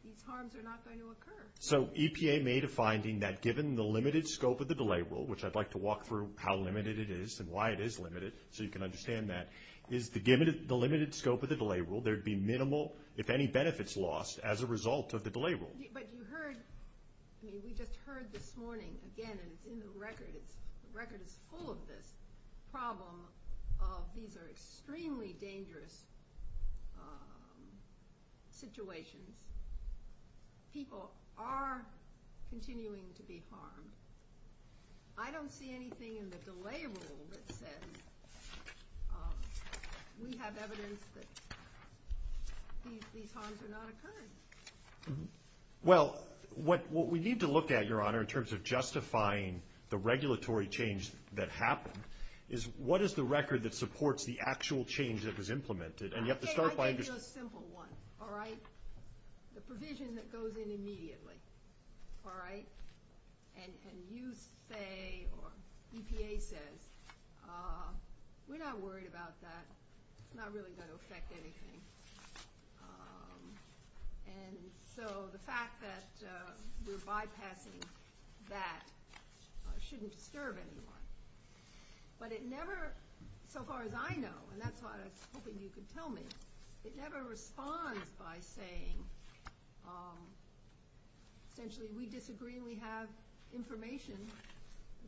these harms are not going to occur? So EPA made a finding that given the limited scope of the delay rule, which I'd like to walk through how limited it is and why it is limited so you can understand that. Given the limited scope of the delay rule, there would be minimal, if any, benefits lost as a result of the delay rule. But you heard, I mean, we just heard this morning, again, and the record is full of this problem of these are extremely dangerous situations. People are continuing to be harmed. I don't see anything in the delay rule that says we have evidence that these harms are not occurring. Well, what we need to look at, Your Honor, in terms of justifying the regulatory change that happened, is what is the record that supports the actual change that was implemented? Okay, I'll give you a simple one, all right? The provision that goes in immediately, all right? And you say, or EPA says, we're not worried about that. It's not really going to affect anything. And so the fact that you're bypassing that shouldn't disturb anyone. But it never, so far as I know, and that's why I was hoping you could tell me, it never responds by saying, essentially, we disagree and we have information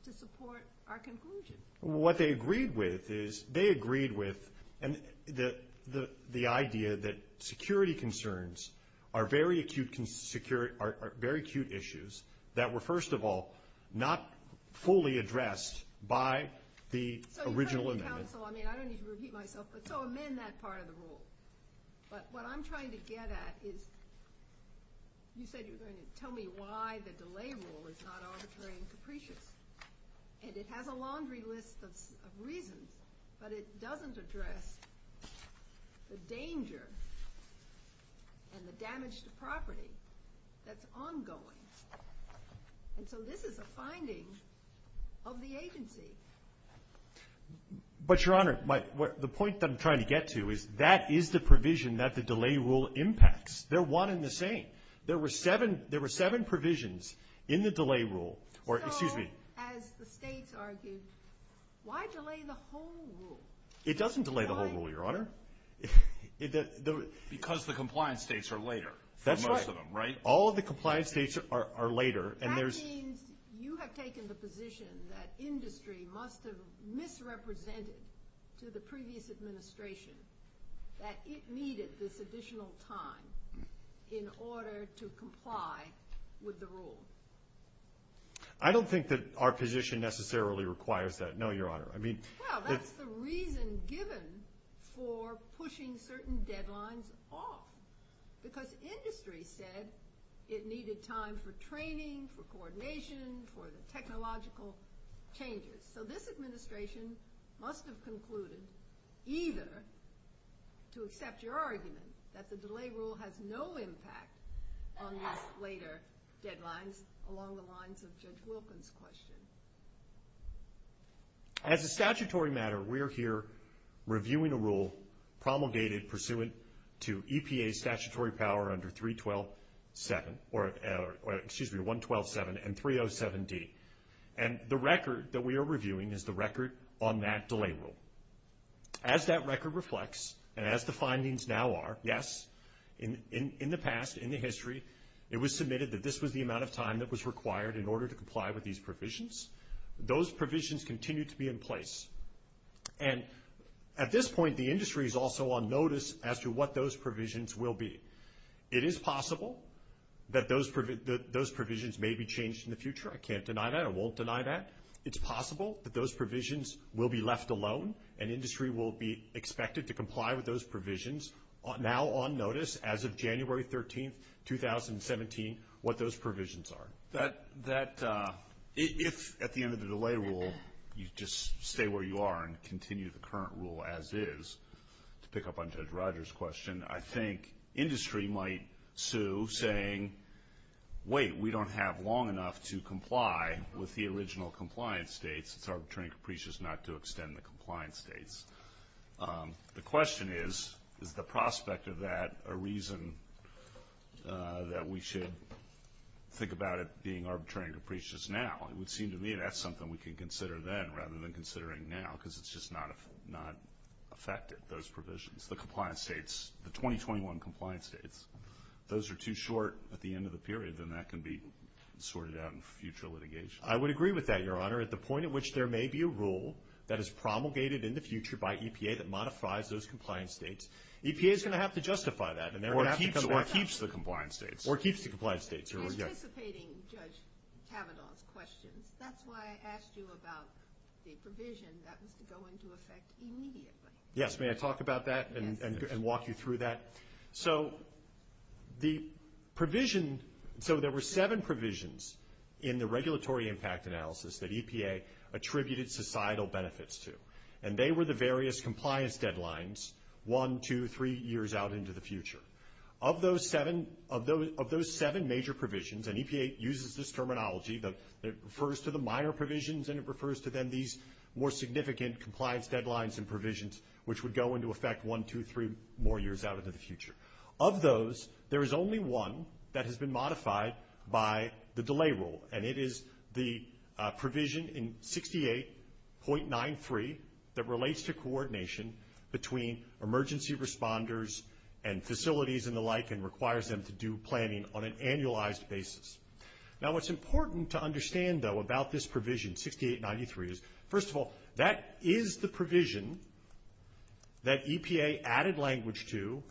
to support our conclusion. Well, what they agreed with is they agreed with the idea that security concerns are very acute issues that were, first of all, not fully addressed by the original amendment. So, I mean, I don't need to repeat myself, but so amend that part of the rule. But what I'm trying to get at is, you said you were going to tell me why the delay rule is not arbitrary and capricious. And it has a laundry list of reasons, but it doesn't address the danger and the damage to property that's ongoing. And so this is a finding of the agency. But, Your Honor, the point that I'm trying to get to is that is the provision that the delay rule impacts. They're one and the same. There were seven provisions in the delay rule. So, as the state argues, why delay the whole rule? It doesn't delay the whole rule, Your Honor. Because the compliance states are later than most of them, right? All of the compliance states are later. That means you have taken the position that industry must have misrepresented to the previous administration that it needed this additional time in order to comply with the rule. I don't think that our position necessarily requires that, no, Your Honor. Well, that's the reason given for pushing certain deadlines off. Because industry said it needed time for training, for coordination, for the technological changes. So this administration must have concluded either to accept your argument that the delay rule has no impact on these later deadlines, along the lines of Judge Wilkins' question. As a statutory matter, we're here reviewing the rule promulgated pursuant to EPA statutory power under 312.7, or excuse me, 112.7 and 307.d. And the record that we are reviewing is the record on that delay rule. As that record reflects, and as the findings now are, yes, in the past, in the history, it was submitted that this was the amount of time that was required in order to comply with these provisions. Those provisions continue to be in place. And at this point, the industry is also on notice as to what those provisions will be. It is possible that those provisions may be changed in the future. I can't deny that. I won't deny that. It's possible that those provisions will be left alone, and industry will be expected to comply with those provisions now on notice as of January 13, 2017, what those provisions are. If at the end of the delay rule you just stay where you are and continue the current rule as is, to pick up on Judge Rogers' question, I think industry might sue saying, wait, we don't have long enough to comply with the original compliance dates. It's arbitrary and capricious not to extend the compliance dates. The question is, is the prospect of that a reason that we should think about it being arbitrary and capricious now? It would seem to me that's something we can consider then rather than considering now because it's just not effective, those provisions. The compliance dates, the 2021 compliance dates, those are too short at the end of the period, and that can be sorted out in future litigation. I would agree with that, Your Honor. At the point at which there may be a rule that is promulgated in the future by EPA that modifies those compliance dates, EPA is going to have to justify that. Or keeps the compliance dates. Or keeps the compliance dates. You're anticipating Judge Kavanaugh's questions. That's why I asked you about the provision that was to go into effect immediately. Yes, may I talk about that and walk you through that? So the provision, so there were seven provisions in the regulatory impact analysis that EPA attributed societal benefits to. And they were the various compliance deadlines one, two, three years out into the future. Of those seven major provisions, and EPA uses this terminology, it refers to the Meyer provisions and it refers to then these more significant compliance deadlines and provisions which would go into effect one, two, three more years out into the future. Of those, there is only one that has been modified by the delay rule, and it is the provision in 68.93 that relates to coordination between emergency responders and facilities and the like and requires them to do planning on an annualized basis. Now what's important to understand, though, about this provision, 68.93, is first of all, that is the provision that EPA added language to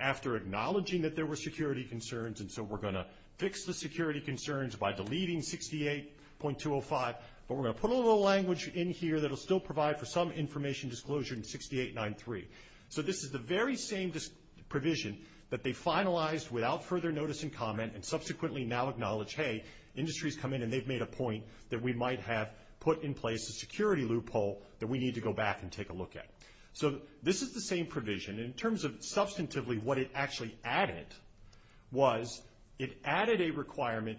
after acknowledging that there were security concerns and so we're going to fix the security concerns by deleting 68.205, but we're going to put a little language in here that will still provide for some information disclosure in 68.93. So this is the very same provision that they finalized without further notice and comment and subsequently now acknowledge, hey, industry has come in and they've made a point that we might have put in place a security loophole that we need to go back and take a look at. So this is the same provision. In terms of substantively what it actually added was it added a requirement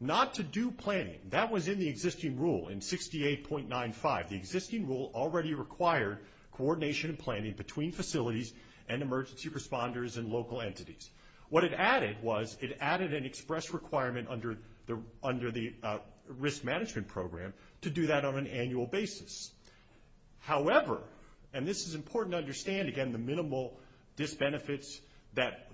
not to do planning. That was in the existing rule in 68.95. The existing rule already required coordination and planning between facilities and emergency responders and local entities. What it added was it added an express requirement under the risk management program to do that on an annual basis. However, and this is important to understand, again, the minimal disbenefits that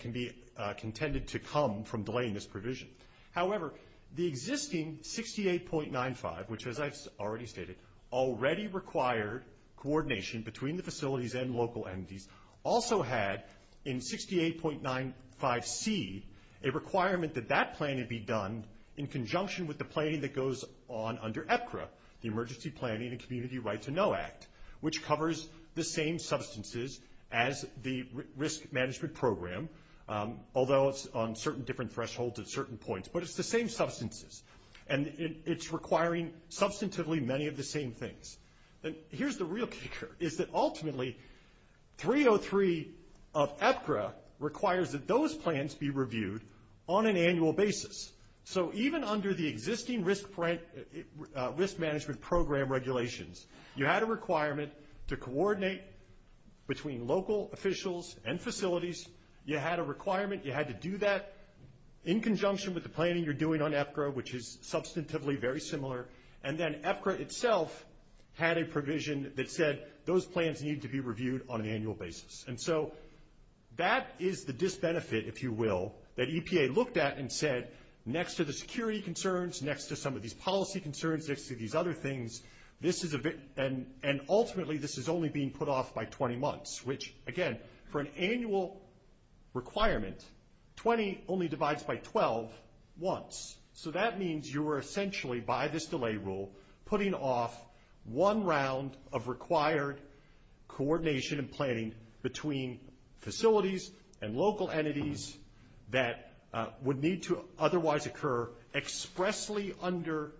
can be contended to come from delaying this provision. However, the existing 68.95, which as I already stated, already required coordination between the facilities and local entities, also had in 68.95C a requirement that that planning be done in conjunction with the planning that goes on under EPCRA, the Emergency Planning and Community Rights to Know Act, which covers the same substances as the risk management program, although it's on certain different thresholds at certain points, but it's the same substances. And it's requiring substantively many of the same things. Here's the real picture, is that ultimately 303 of EPCRA requires that those plans be reviewed on an annual basis. So even under the existing risk management program regulations, you had a requirement to coordinate between local officials and facilities. You had a requirement, you had to do that in conjunction with the planning you're doing on EPCRA, which is substantively very similar. And then EPCRA itself had a provision that said those plans need to be reviewed on an annual basis. And so that is the disbenefit, if you will, that EPA looked at and said next to the security concerns, next to some of these policy concerns, next to these other things, and ultimately this is only being put off by 20 months, which again, for an annual requirement, 20 only divides by 12 once. So that means you were essentially, by this delay rule, putting off one round of required coordination and planning between facilities and local entities that would need to otherwise occur expressly under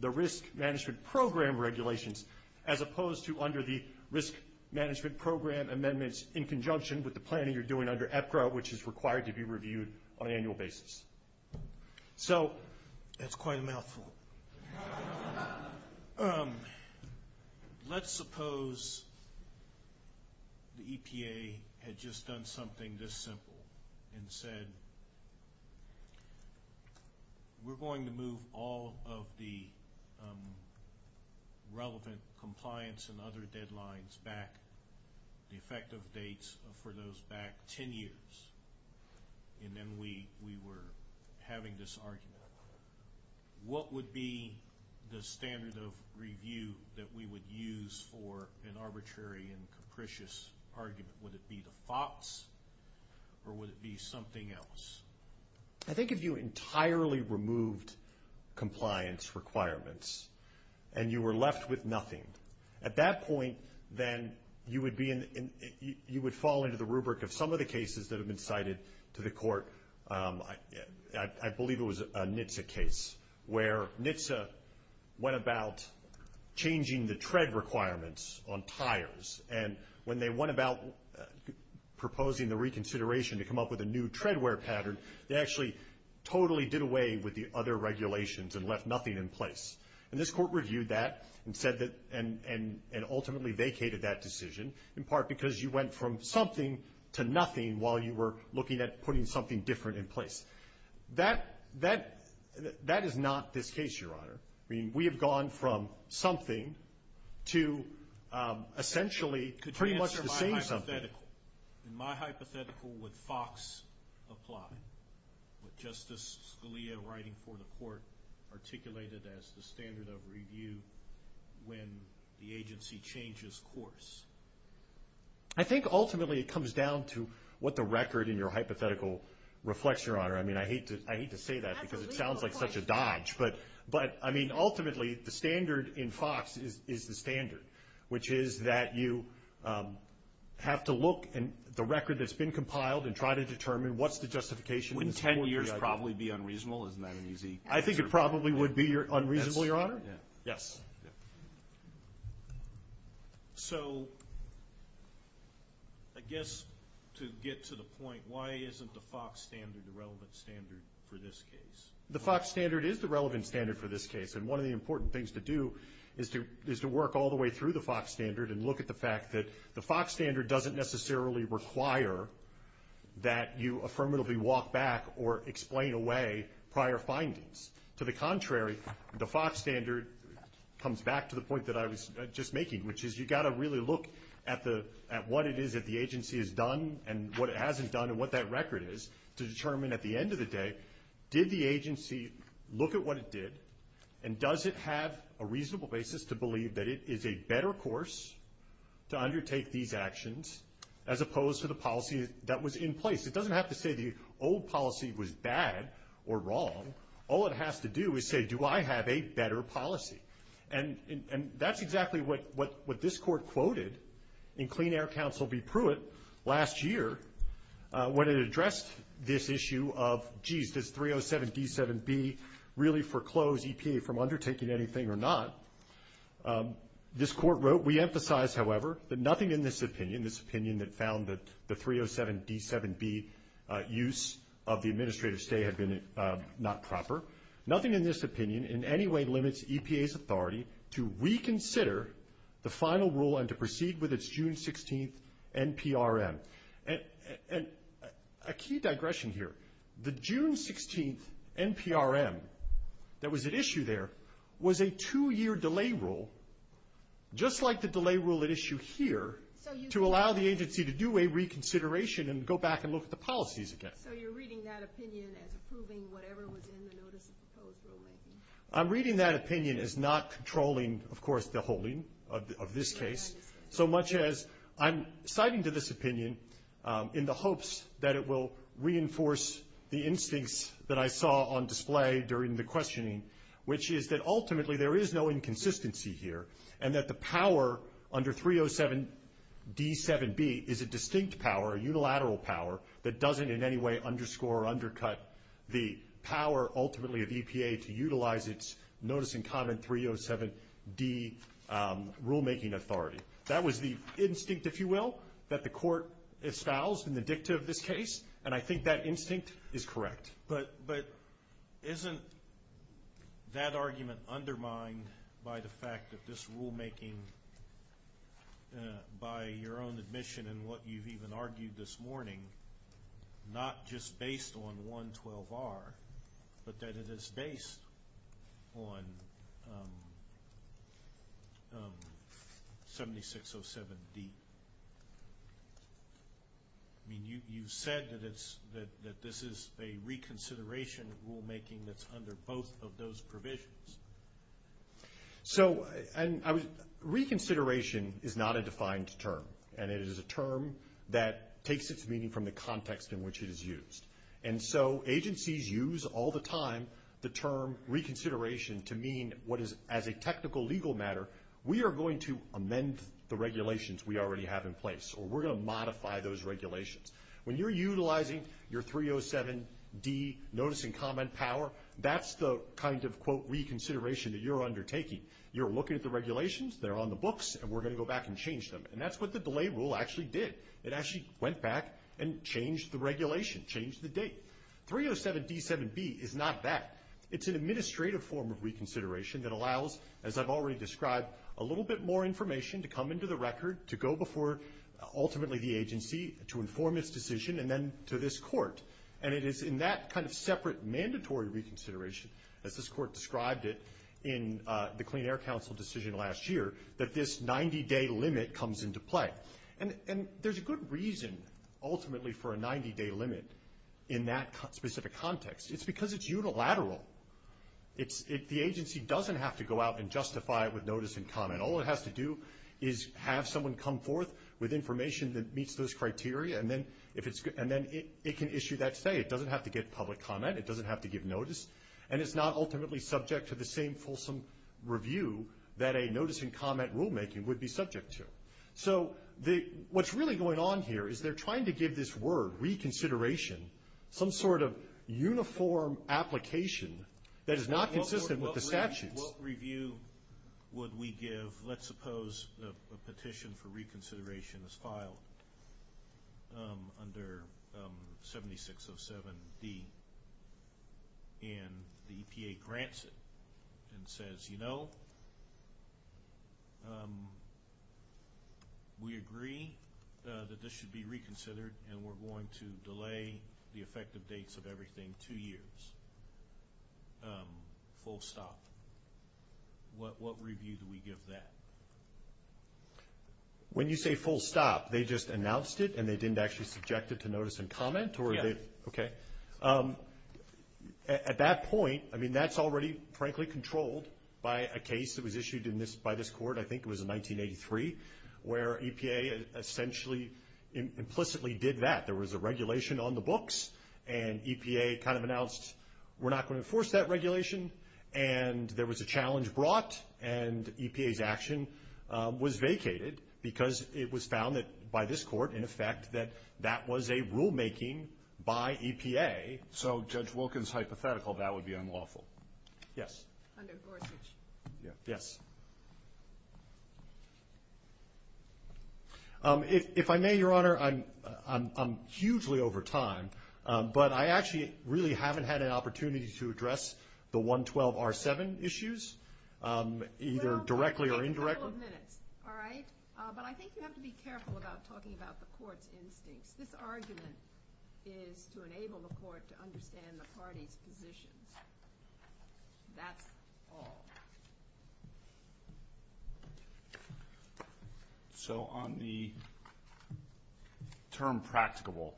the risk management program regulations, as opposed to under the risk management program amendments in conjunction with the planning you're doing under EPCRA, which is required to be reviewed on an annual basis. So that's quite a mouthful. Let's suppose the EPA had just done something this simple and said, we're going to move all of the relevant compliance and other deadlines back, the effective dates for those back 10 years, and then we were having this argument. What would be the standard of review that we would use for an arbitrary and capricious argument? Would it be the FOX or would it be something else? I think if you entirely removed compliance requirements and you were left with nothing, at that point then you would fall into the rubric of some of the cases that have been cited to the court. I believe it was a NHTSA case where NHTSA went about changing the tread requirements on tires, and when they went about proposing the reconsideration to come up with a new treadwear pattern, they actually totally did away with the other regulations and left nothing in place. And this court reviewed that and ultimately vacated that decision, in part because you went from something to nothing while you were looking at putting something different in place. That is not this case, Your Honor. I mean, we have gone from something to essentially pretty much the same something. In my hypothetical, would FOX apply? Would Justice Scalia, writing for the court, articulate it as the standard of review when the agency changes course? I think ultimately it comes down to what the record in your hypothetical reflects, Your Honor. I mean, I hate to say that because it sounds like such a dodge. But, I mean, ultimately the standard in FOX is the standard, which is that you have to look at the record that's been compiled and try to determine what's the justification. Would 10 years probably be unreasonable? Isn't that an easy question? I think it probably would be unreasonable, Your Honor. Yes. So I guess to get to the point, why isn't the FOX standard the relevant standard for this case? The FOX standard is the relevant standard for this case, and one of the important things to do is to work all the way through the FOX standard and look at the fact that the FOX standard doesn't necessarily require that you affirmatively walk back or explain away prior findings. To the contrary, the FOX standard comes back to the point that I was just making, which is you've got to really look at what it is that the agency has done and what it hasn't done and what that record is to determine at the end of the day, did the agency look at what it did, and does it have a reasonable basis to believe that it is a better course to undertake these actions, as opposed to the policy that was in place? It doesn't have to say the old policy was bad or wrong. All it has to do is say, do I have a better policy? And that's exactly what this Court quoted in Clean Air Counsel v. Pruitt last year when it addressed this issue of, geez, does 307D7B really foreclose EPA from undertaking anything or not? This Court wrote, we emphasize, however, that nothing in this opinion, this opinion that found that the 307D7B use of the administrative stay had been not proper, nothing in this opinion in any way limits EPA's authority to reconsider the final rule and to proceed with its June 16th NPRM. And a key digression here, the June 16th NPRM that was at issue there was a two-year delay rule, just like the delay rule at issue here, to allow the agency to do a reconsideration and go back and look at the policies again. So you're reading that opinion as approving whatever was in the Notice of Proposed Delay? I'm reading that opinion as not controlling, of course, the holding of this case, so much as I'm citing to this opinion in the hopes that it will reinforce the instincts that I saw on display during the questioning, which is that ultimately there is no inconsistency here, and that the power under 307D7B is a distinct power, a unilateral power, that doesn't in any way underscore or undercut the power ultimately of EPA to utilize its Notice in Common 307D rulemaking authority. That was the instinct, if you will, that the Court establishes in the dicta of this case, and I think that instinct is correct. But isn't that argument undermined by the fact that this rulemaking, by your own admission and what you've even argued this morning, not just based on 112R, but that it is based on 7607D? I mean, you said that this is a reconsideration rulemaking that's under both of those provisions. So reconsideration is not a defined term, and it is a term that takes its meaning from the context in which it is used. And so agencies use all the time the term reconsideration to mean what is, as a technical legal matter, we are going to amend the regulations we already have in place, or we're going to modify those regulations. When you're utilizing your 307D Notice in Common power, that's the kind of, quote, reconsideration that you're undertaking. You're looking at the regulations, they're on the books, and we're going to go back and change them. And that's what the delay rule actually did. It actually went back and changed the regulation, changed the date. 307D7B is not that. It's an administrative form of reconsideration that allows, as I've already described, a little bit more information to come into the record, to go before ultimately the agency to inform its decision, and then to this court. And it is in that kind of separate mandatory reconsideration that this court described it in the Clean Air Council decision last year, that this 90-day limit comes into play. And there's a good reason, ultimately, for a 90-day limit in that specific context. It's because it's unilateral. The agency doesn't have to go out and justify it with notice in common. All it has to do is have someone come forth with information that meets those criteria, and then it can issue that state. It doesn't have to get public comment. It doesn't have to give notice. And it's not ultimately subject to the same fulsome review that a notice in common rulemaking would be subject to. So what's really going on here is they're trying to give this word, reconsideration, some sort of uniform application that is not consistent with the statute. What review would we give? Let's suppose a petition for reconsideration is filed under 7607B, and the EPA grants it and says, you know, we agree that this should be reconsidered, and we're going to delay the effective dates of everything two years, full stop. What review do we give that? When you say full stop, they just announced it, and they didn't actually subject it to notice and comment, or is it? Okay. At that point, I mean, that's already, frankly, controlled by a case that was issued by this court, I think it was in 1983, where EPA essentially implicitly did that. There was a regulation on the books, and EPA kind of announced, we're not going to enforce that regulation, and there was a challenge brought, and EPA's action was vacated because it was found by this court, in effect, that that was a rulemaking by EPA. So Judge Wilkins' hypothetical, that would be unlawful. Yes. Yes. If I may, Your Honor, I'm hugely over time, but I actually really haven't had an opportunity to address the 112R7 issues, either directly or indirectly. Well, we have a couple of minutes, all right? But I think you have to be careful about talking about the court's instincts. This argument is to enable the court to understand the party's position. That's all. Thank you. So on the term practicable,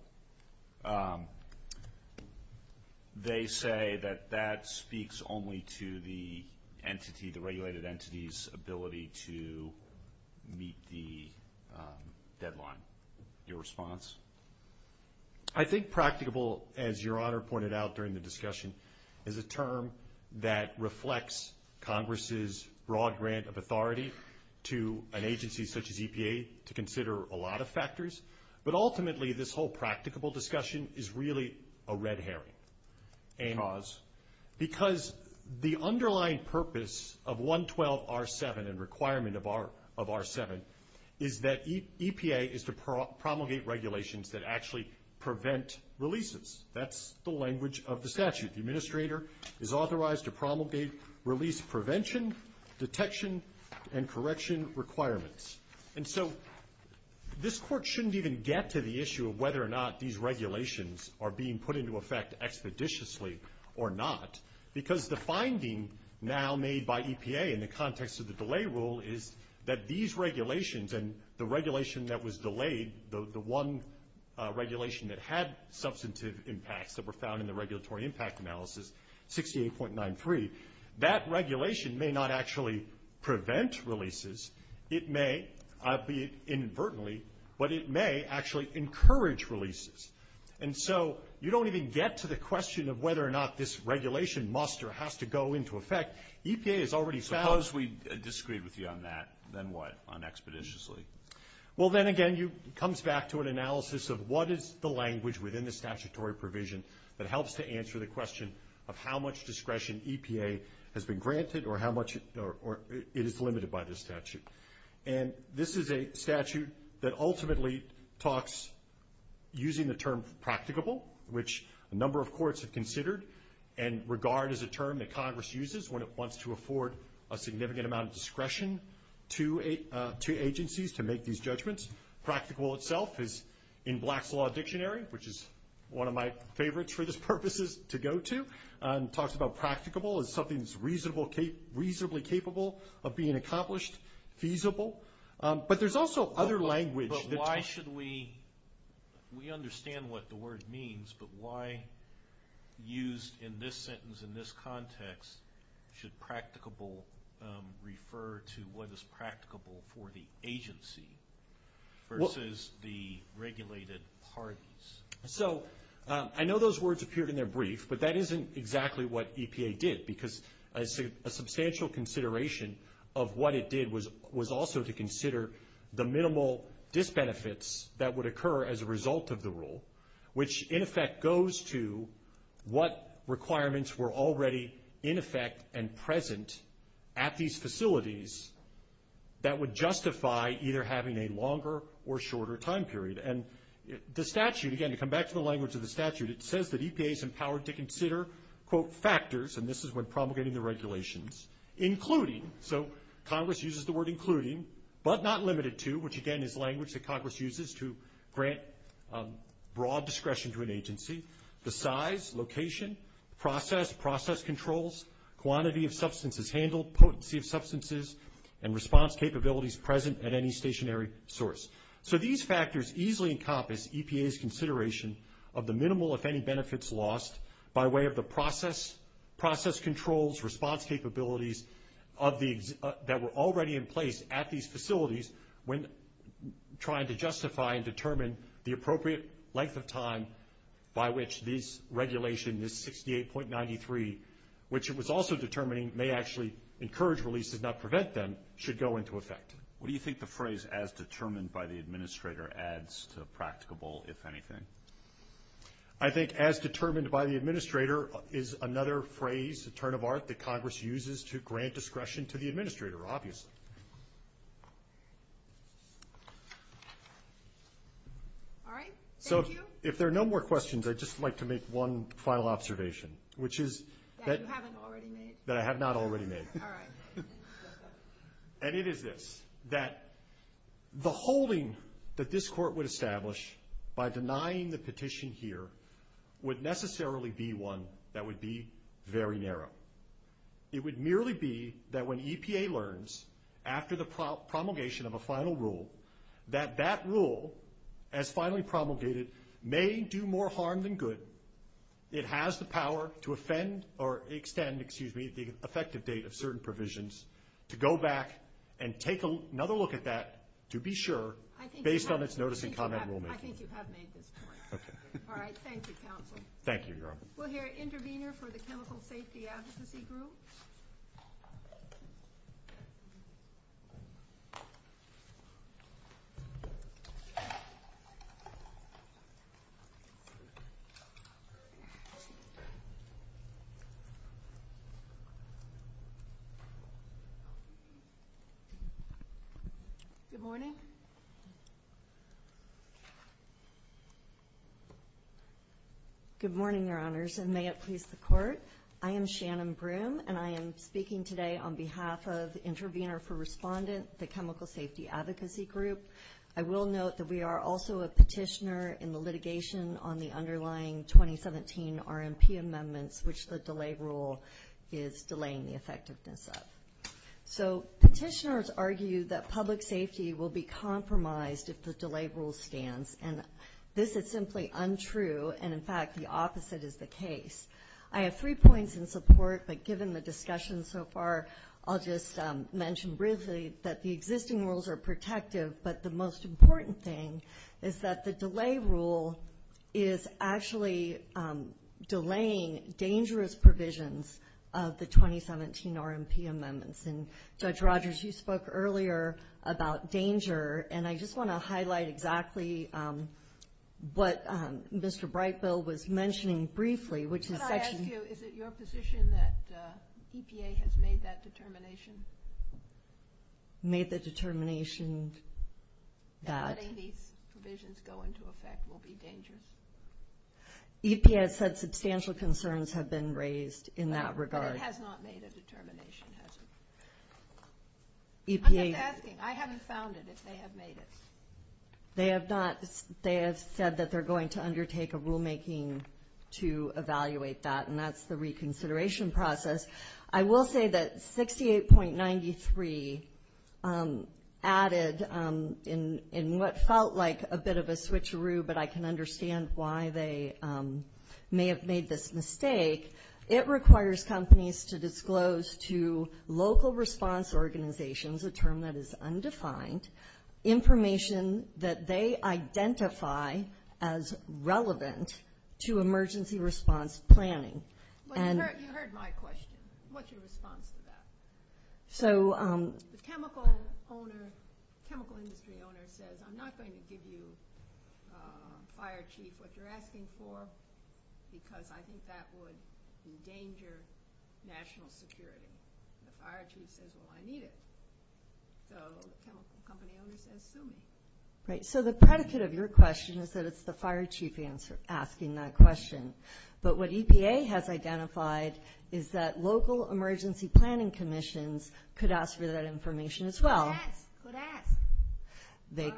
they say that that speaks only to the entity, the regulated entity's ability to meet the deadline. Your response? I think practicable, as Your Honor pointed out during the discussion, is a term that reflects Congress's broad grant of authority to an agency such as EPA to consider a lot of factors. But ultimately, this whole practicable discussion is really a red herring, amos, because the underlying purpose of 112R7 and requirement of R7 is that EPA is to promulgate regulations that actually prevent releases. That's the language of the statute. The administrator is authorized to promulgate release prevention, detection, and correction requirements. And so this court shouldn't even get to the issue of whether or not these regulations are being put into effect expeditiously or not, because the finding now made by EPA in the context of the delay rule is that these regulations and the regulation that was delayed, the one regulation that had substantive impacts that were found in the regulatory impact analysis, 68.93, that regulation may not actually prevent releases. It may, albeit inadvertently, but it may actually encourage releases. And so you don't even get to the question of whether or not this regulation must or has to go into effect. EPA has already found – Suppose we disagree with you on that, then what, on expeditiously? Well, then again, it comes back to an analysis of what is the language within the statutory provision that helps to answer the question of how much discretion EPA has been granted or how much it is limited by the statute. And this is a statute that ultimately talks using the term practicable, which a number of courts have considered and regard as a term that Congress uses when it wants to afford a significant amount of discretion to agencies to make these judgments. Practicable itself is in Black's Law Dictionary, which is one of my favorites for this purpose to go to, and talks about practicable as something that's reasonably capable of being accomplished, feasible. But there's also other language that's – We understand what the word means, but why use in this sentence, in this context, should practicable refer to what is practicable for the agency versus the regulated parties? So I know those words appeared in their brief, but that isn't exactly what EPA did, because a substantial consideration of what it did was also to consider the minimal disbenefits that would occur as a result of the rule, which in effect goes to what requirements were already in effect and present at these facilities that would justify either having a longer or shorter time period. And the statute, again, to come back to the language of the statute, it says that EPA is empowered to consider, quote, factors, and this is when promulgating the regulations, including. So Congress uses the word including, but not limited to, which again is language that Congress uses to grant broad discretion to an agency. The size, location, process, process controls, quantity of substances handled, potency of substances, and response capabilities present at any stationary source. So these factors easily encompass EPA's consideration of the minimal, if any, benefits lost by way of the process controls, response capabilities that were already in place at these facilities when trying to justify and determine the appropriate length of time by which this regulation, this 68.93, which it was also determining may actually encourage releases, not prevent them, should go into effect. What do you think the phrase as determined by the administrator adds to practicable, if anything? I think as determined by the administrator is another phrase, a turn of art, that Congress uses to grant discretion to the administrator, obviously. All right. Thank you. So if there are no more questions, I'd just like to make one final observation, which is that- That you haven't already made. That I have not already made. All right. And it is this, that the holding that this court would establish by denying the petition here would necessarily be one that would be very narrow. It would merely be that when EPA learns, after the promulgation of a final rule, that that rule, as finally promulgated, may do more harm than good. It has the power to offend or extend, excuse me, the effective date of certain provisions to go back and take another look at that, to be sure, based on its notice and comment rulemaking. I think you have made this point. All right. Thank you, counsel. Thank you, Your Honor. We'll hear an intervener for the Chemical Safety Advocacy Group. Good morning. Good morning, Your Honors, and may it please the Court. I am Shannon Broome, and I am speaking today on behalf of the Intervener for Respondent, the Chemical Safety Advocacy Group. I will note that we are also a petitioner in the litigation on the underlying 12-year-old 2017 RMP amendments, which the delay rule is delaying the effectiveness of. So, petitioners argue that public safety will be compromised if the delay rule stands, and this is simply untrue, and, in fact, the opposite is the case. I have three points in support, but given the discussion so far, I'll just mention briefly that the existing rules are protective, but the most important thing is that the delay rule is actually delaying dangerous provisions of the 2017 RMP amendments, and Judge Rogers, you spoke earlier about danger, and I just want to highlight exactly what Mr. Breitfeld was mentioning briefly, which is that. Can I ask you, is it your position that EPA has made that determination? Made the determination that. Letting these provisions go into effect will be dangerous. EPA has said substantial concerns have been raised in that regard. But it has not made a determination, has it? EPA. I'm just asking. I haven't found it. If they have made it. They have not. They have said that they're going to undertake a rulemaking to evaluate that, and that's the reconsideration process. I will say that 68.93 added in what felt like a bit of a switcheroo, but I can understand why they may have made this mistake. It requires companies to disclose to local response organizations, a term that is undefined, information that they identify as relevant to emergency response planning. You heard my question. What's your response to that? The chemical industry owner says, I'm not going to give you, fire chief, what you're asking for, because I think that would endanger national security. The fire chief says, well, I need it. So the chemical company owner says, sue me. So the predicate of your question is that it's the fire chief asking that question. But what EPA has identified is that local emergency planning commissions could ask for that information as well. Could ask. Could ask.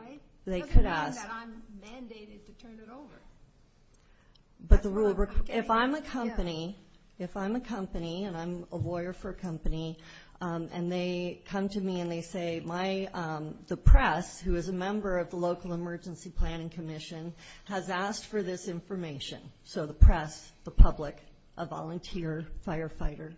They could ask. I'm mandated to turn it over. But the rule works. If I'm a company, and I'm a lawyer for a company, and they come to me and they say the press, who is a member of the local emergency planning commission, has asked for this information. So the press, the public, a volunteer firefighter,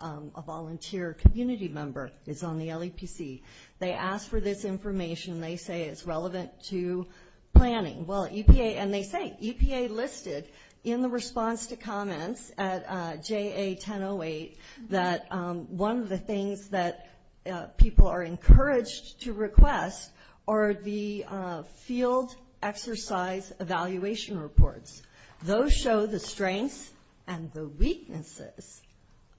a volunteer community member is on the LEPC. They ask for this information. They say it's relevant to planning. Well, EPA, and they say, EPA listed in the response to comments at JA 1008 that one of the things that people are encouraged to request are the field exercise evaluation reports. Those show the strengths and the weaknesses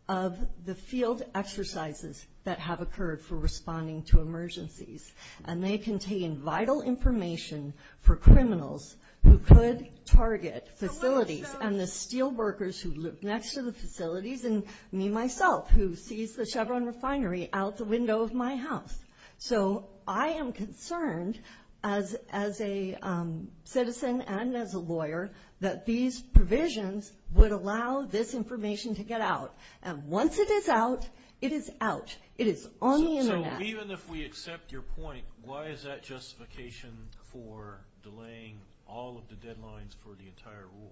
of the field exercises that have occurred for responding to emergencies. And they contain vital information for criminals who could target facilities and the steel workers who live next to the facilities and me, myself, who sees the Chevron refinery out the window of my house. So I am concerned, as a citizen and as a lawyer, that these provisions would allow this information to get out. And once it is out, it is out. It is on the Internet. So even if we accept your point, why is that justification for delaying all of the deadlines for the entire rule?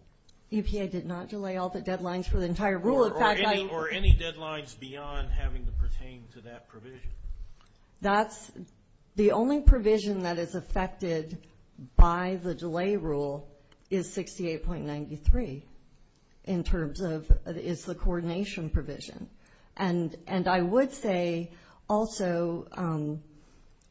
EPA did not delay all the deadlines for the entire rule. Or any deadlines beyond having to pertain to that provision. That's the only provision that is affected by the delay rule is 68.93 in terms of it's a coordination provision. And I would say also...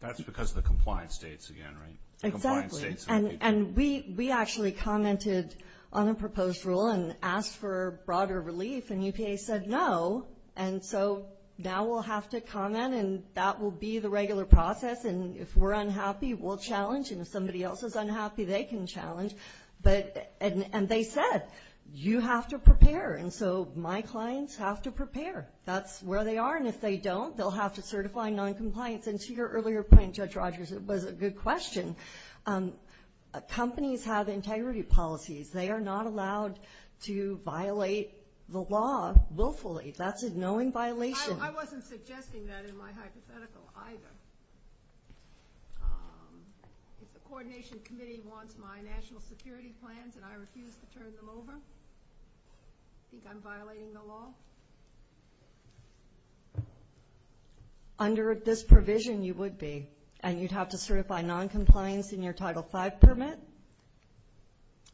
That's because of the compliance dates again, right? Exactly. And we actually commented on a proposed rule and asked for broader relief, and EPA said no. And so now we'll have to comment, and that will be the regular process. And if we're unhappy, we'll challenge. And if somebody else is unhappy, they can challenge. And they said, you have to prepare. And so my clients have to prepare. That's where they are. And if they don't, they'll have to certify noncompliance. And to your earlier point, Judge Rogers, it was a good question. Companies have integrity policies. They are not allowed to violate the law willfully. That's a known violation. I wasn't suggesting that in my hypothetical either. If the Coordination Committee wants my national security plans and I refuse to turn them over, do you think I'm violating the law? Under this provision, you would be. And you'd have to certify noncompliance in your Title V permit.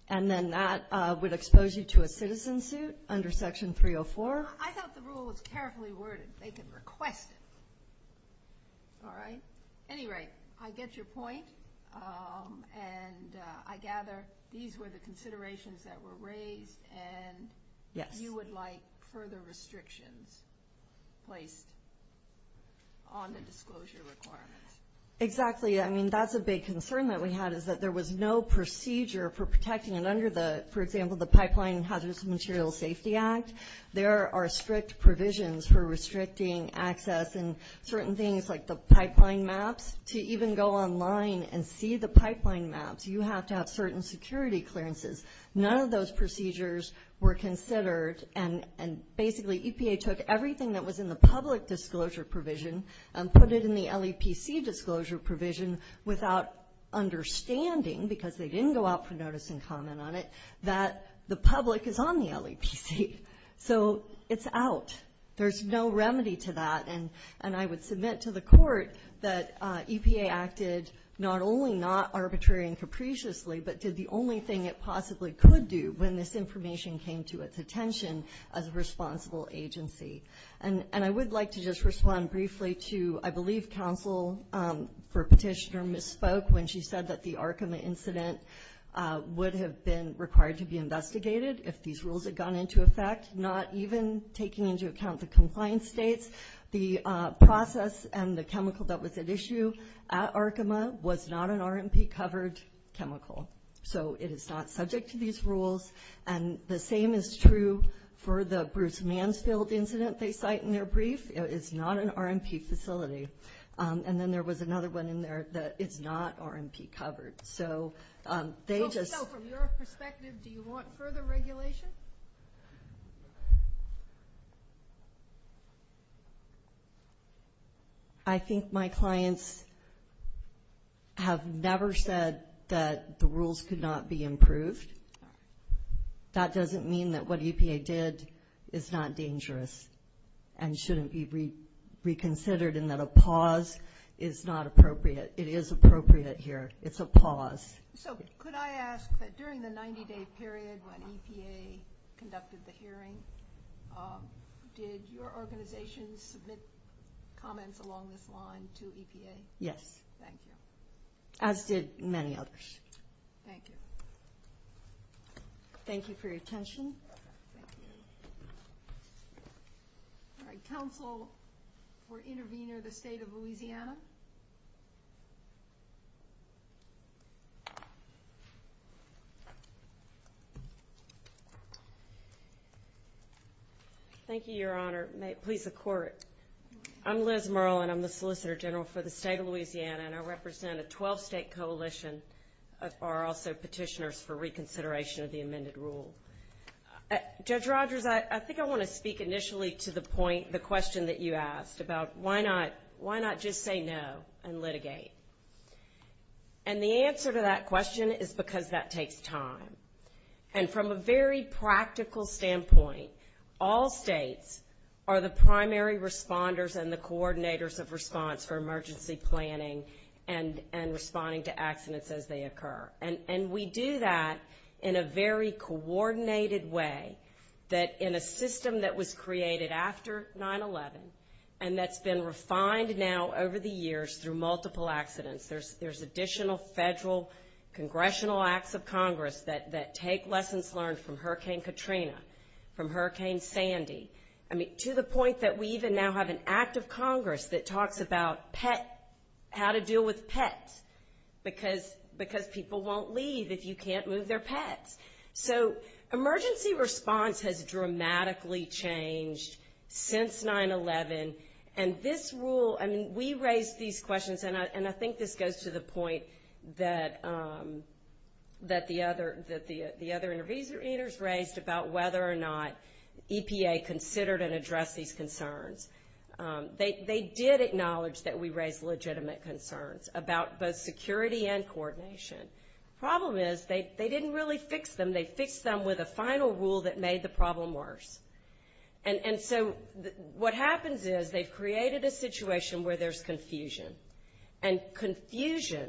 And then that would expose you to a citizen suit under Section 304. I thought the rule was carefully worded. They can request it. All right? At any rate, I get your point. And I gather these were the considerations that were raised. And you would like further restrictions placed on the disclosure requirements. Exactly. I mean, that's a big concern that we had is that there was no procedure for protecting. And under the, for example, the Pipeline and Hazardous Materials Safety Act, there are strict provisions for restricting access and certain things like the pipeline maps. To even go online and see the pipeline maps, you have to have certain security clearances. None of those procedures were considered. And basically EPA took everything that was in the public disclosure provision and put it in the LEPC disclosure provision without understanding, because they didn't go out for notice and comment on it, that the public is on the LEPC. So it's out. There's no remedy to that. And I would submit to the court that EPA acted not only not arbitrarily and capriciously, but did the only thing it possibly could do when this information came to its attention as a responsible agency. And I would like to just respond briefly to, I believe, counsel for petitioner misspoke when she said that the Arkham incident would have been required to be investigated if these rules had gone into effect, not even taking into account the compliance states. The process and the chemical that was at issue at Arkham was not an RMP-covered chemical. So it is not subject to these rules. And the same is true for the Bruce Mansfield incident they cite in their brief. It is not an RMP facility. And then there was another one in there that is not RMP-covered. So from your perspective, do you want further regulation? I think my clients have never said that the rules could not be improved. That doesn't mean that what EPA did is not dangerous and shouldn't be reconsidered and that a pause is not appropriate. It is appropriate here. It's a pause. So could I ask that during the 90-day period when EPA conducted the hearing, did your organization submit comments along this line to EPA? Yes. Thank you. I've did many others. Thank you. Thank you for your attention. Counsel or intervener, the State of Louisiana. Thank you, Your Honor. Please record. I'm Liz Merlin. I'm the Solicitor General for the State of Louisiana, and I represent a 12-state coalition that are also petitioners for reconsideration of the amended rules. Judge Rodgers, I think I want to speak initially to the point, the question that you asked about why not just say no and litigate. And the answer to that question is because that takes time. And from a very practical standpoint, all states are the primary responders and the coordinators of response for emergency planning and responding to accidents as they occur. And we do that in a very coordinated way, that in a system that was created after 9-11 and that's been refined now over the years through multiple accidents. There's additional federal congressional acts of Congress that take lessons learned from Hurricane Katrina, from Hurricane Sandy. I mean, to the point that we even now have an act of Congress that talks about pets, how to deal with pets, because people won't leave if you can't move their pets. So emergency response has dramatically changed since 9-11. And this rule, I mean, we raised these questions, and I think this goes to the point that the other interveners raised about whether or not EPA considered and addressed these concerns. They did acknowledge that we raised legitimate concerns about both security and coordination. The problem is they didn't really fix them. They fixed them with a final rule that made the problem worse. And so what happens is they've created a situation where there's confusion, and confusion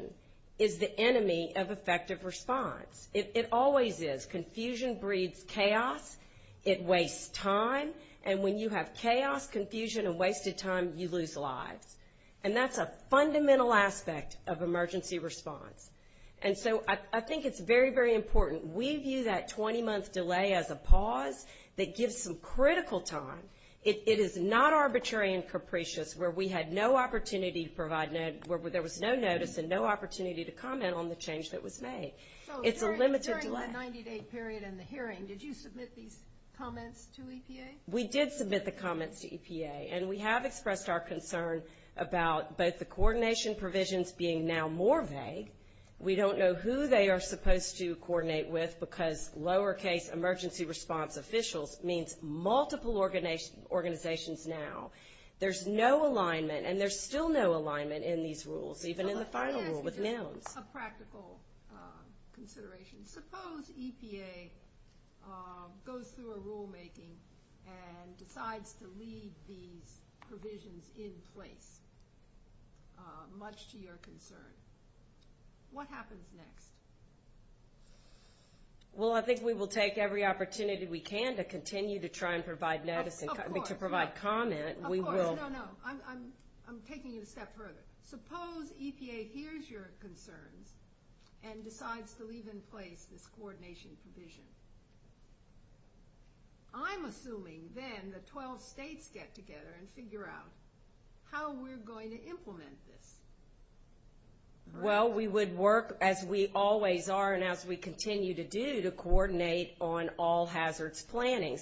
is the enemy of effective response. It always is. Confusion breeds chaos. It wastes time. And when you have chaos, confusion, and wasted time, you lose lives. And that's a fundamental aspect of emergency response. And so I think it's very, very important. We view that 20-month delay as a pause that gives some critical time. It is not arbitrary and capricious where we had no opportunity to provide notice, where there was no notice and no opportunity to comment on the change that was made. It's a limited delay. During the 90-day period and the hearing, did you submit these comments to EPA? We did submit the comments to EPA, and we have expressed our concerns about both the coordination provisions being now more vague. We don't know who they are supposed to coordinate with because lowercase emergency response officials means multiple organizations now. There's no alignment, and there's still no alignment in these rules, even in the final rule with them. Just a practical consideration. Suppose EPA goes through a rulemaking and decides to leave these provisions in place, much to your concern. What happens next? Well, I think we will take every opportunity we can to continue to try and provide notice and to provide comment. Of course. No, no, no. I'm taking it a step further. Suppose EPA hears your concerns and decides to leave in place this coordination provision. I'm assuming then the 12 states get together and figure out how we're going to implement this. Well, we would work, as we always are and as we continue to do, to coordinate on all hazards planning.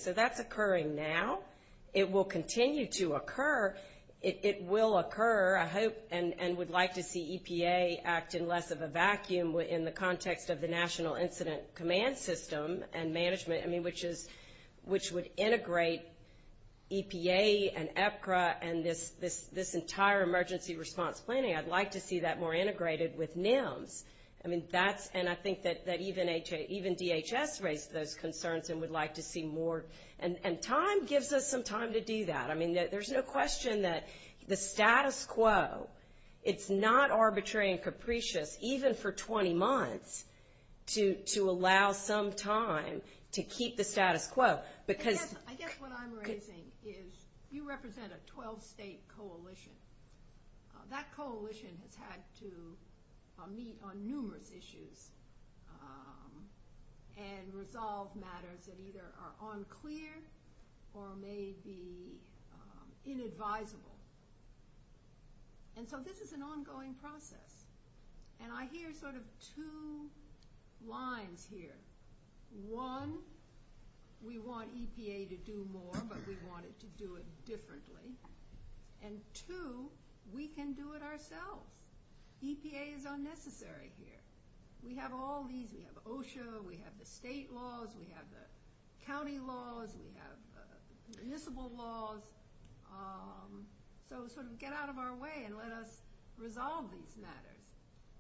It will continue to occur. It will occur, I hope, and would like to see EPA act in less of a vacuum in the context of the National Incident Command System and management, which would integrate EPA and EPRA and this entire emergency response planning. I'd like to see that more integrated with NIMS. And I think that even DHS raised those concerns and would like to see more. And time gives us some time to do that. I mean, there's no question that the status quo, it's not arbitrary and capricious even for 20 months to allow some time to keep the status quo. I guess what I'm raising is you represent a 12-state coalition. That coalition has had to meet on numerous issues and resolve matters that either are unclear or may be inadvisable. And so this is an ongoing process. And I hear sort of two lines here. One, we want EPA to do more, but we want it to do it differently. And two, we can do it ourselves. EPA is unnecessary here. We have all these. We have OSHA. We have the state laws. We have the county laws. We have municipal laws. So sort of get out of our way and let us resolve these matters.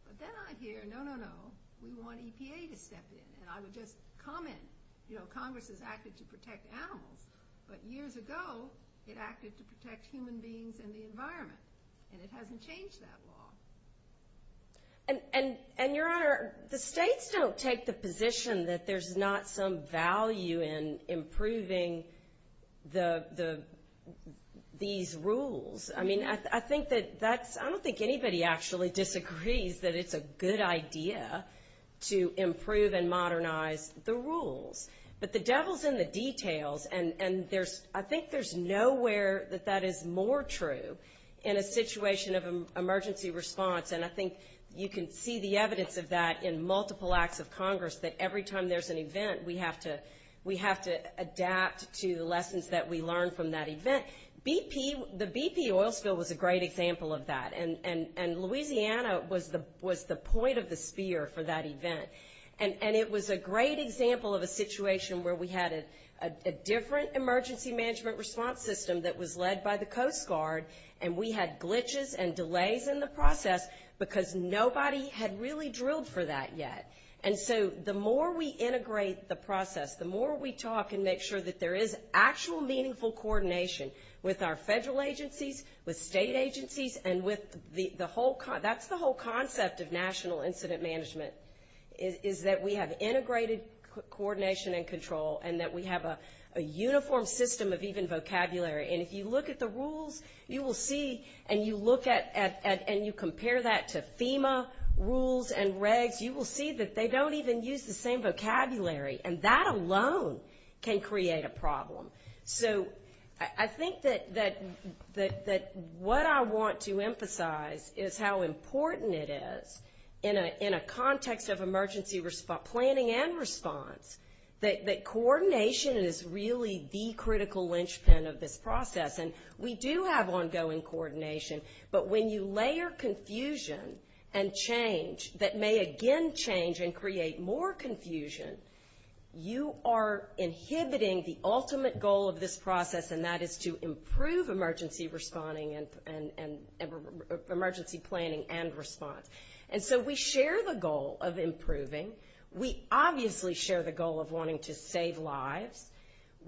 But then I hear, no, no, no, we want EPA to step in. And I would just comment, you know, Congress has acted to protect animals, but years ago it acted to protect human beings and the environment, and it hasn't changed that law. And, Your Honor, the states don't take the position that there's not some value in improving these rules. I mean, I think that that's – I don't think anybody actually disagrees that it's a good idea to improve and modernize the rules. But the devil's in the details, and I think there's nowhere that that is more true in a situation of emergency response, and I think you can see the evidence of that in multiple acts of Congress, that every time there's an event, we have to adapt to the lessons that we learn from that event. The BP oil spill was a great example of that, and Louisiana was the point of the sphere for that event. And it was a great example of a situation where we had a different emergency management response system that was led by the Coast Guard, and we had glitches and delays in the process because nobody had really drilled for that yet. And so the more we integrate the process, the more we talk and make sure that there is actual meaningful coordination with our federal agencies, with state agencies, and with the whole – that's the whole concept of national incident management, is that we have integrated coordination and control and that we have a uniform system of even vocabulary. And if you look at the rules, you will see and you look at and you compare that to FEMA rules and regs, you will see that they don't even use the same vocabulary, and that alone can create a problem. So I think that what I want to emphasize is how important it is in a context of emergency planning and response that coordination is really the critical linchpin of this process. And we do have ongoing coordination, but when you layer confusion and change that may again change and create more confusion, you are inhibiting the ultimate goal of this process, and that is to improve emergency planning and response. And so we share the goal of improving. We obviously share the goal of wanting to save lives.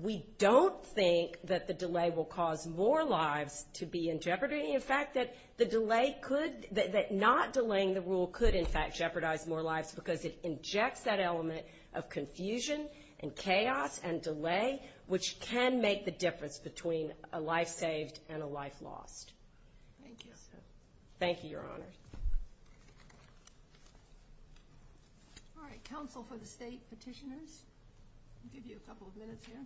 We don't think that the delay will cause more lives to be in jeopardy. In fact, that the delay could – that not delaying the rule could, in fact, jeopardize more lives because it injects that element of confusion and chaos and delay which can make the difference between a life saved and a life lost. Thank you. Thank you, Your Honors. All right. Council for the State Petitioners, I'll give you a couple of minutes here.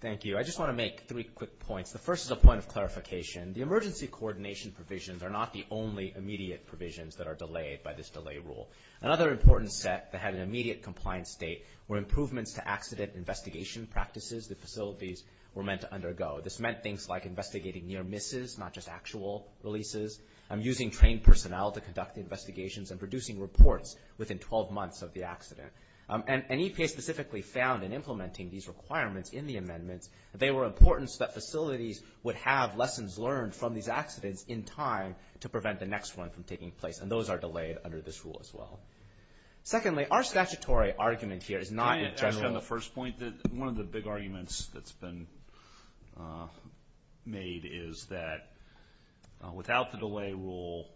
Thank you. I just want to make three quick points. The first is a point of clarification. The emergency coordination provisions are not the only immediate provisions that are delayed by this delay rule. Another important step to have an immediate compliance date were improvements to accident investigation practices the facilities were meant to undergo. This meant things like investigating near misses, not just actual releases. I'm using trained personnel to conduct investigations and producing reports within 12 months of the accident. And EPA specifically found in implementing these requirements in the amendments that they were important so that facilities would have lessons learned from these accidents in time to prevent the next one from taking place, and those are delayed under this rule as well. Secondly, our statutory argument here is not in general – Actually, on the first point, one of the big arguments that's been made is that without the delay rule,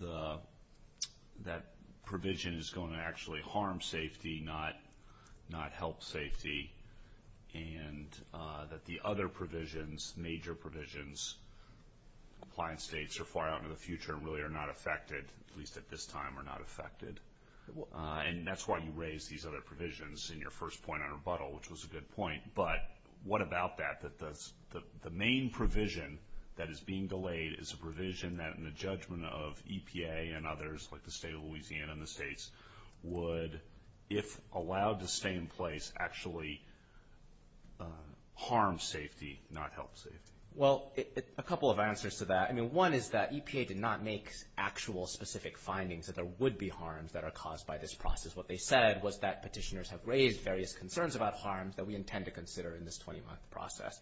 that provision is going to actually harm safety, not help safety, and that the other provisions, major provisions, compliance dates are far out in the future and really are not affected, at least at this time are not affected. And that's why you raised these other provisions in your first point on rebuttal, which was a good point. But what about that, that the main provision that is being delayed is a provision that, in the judgment of EPA and others, like the state of Louisiana and the states, would, if allowed to stay in place, actually harm safety, not help safety? Well, a couple of answers to that. One is that EPA did not make actual specific findings that there would be harms that are caused by this process. What they said was that petitioners have raised various concerns about harms that we intend to consider in this 20-month process.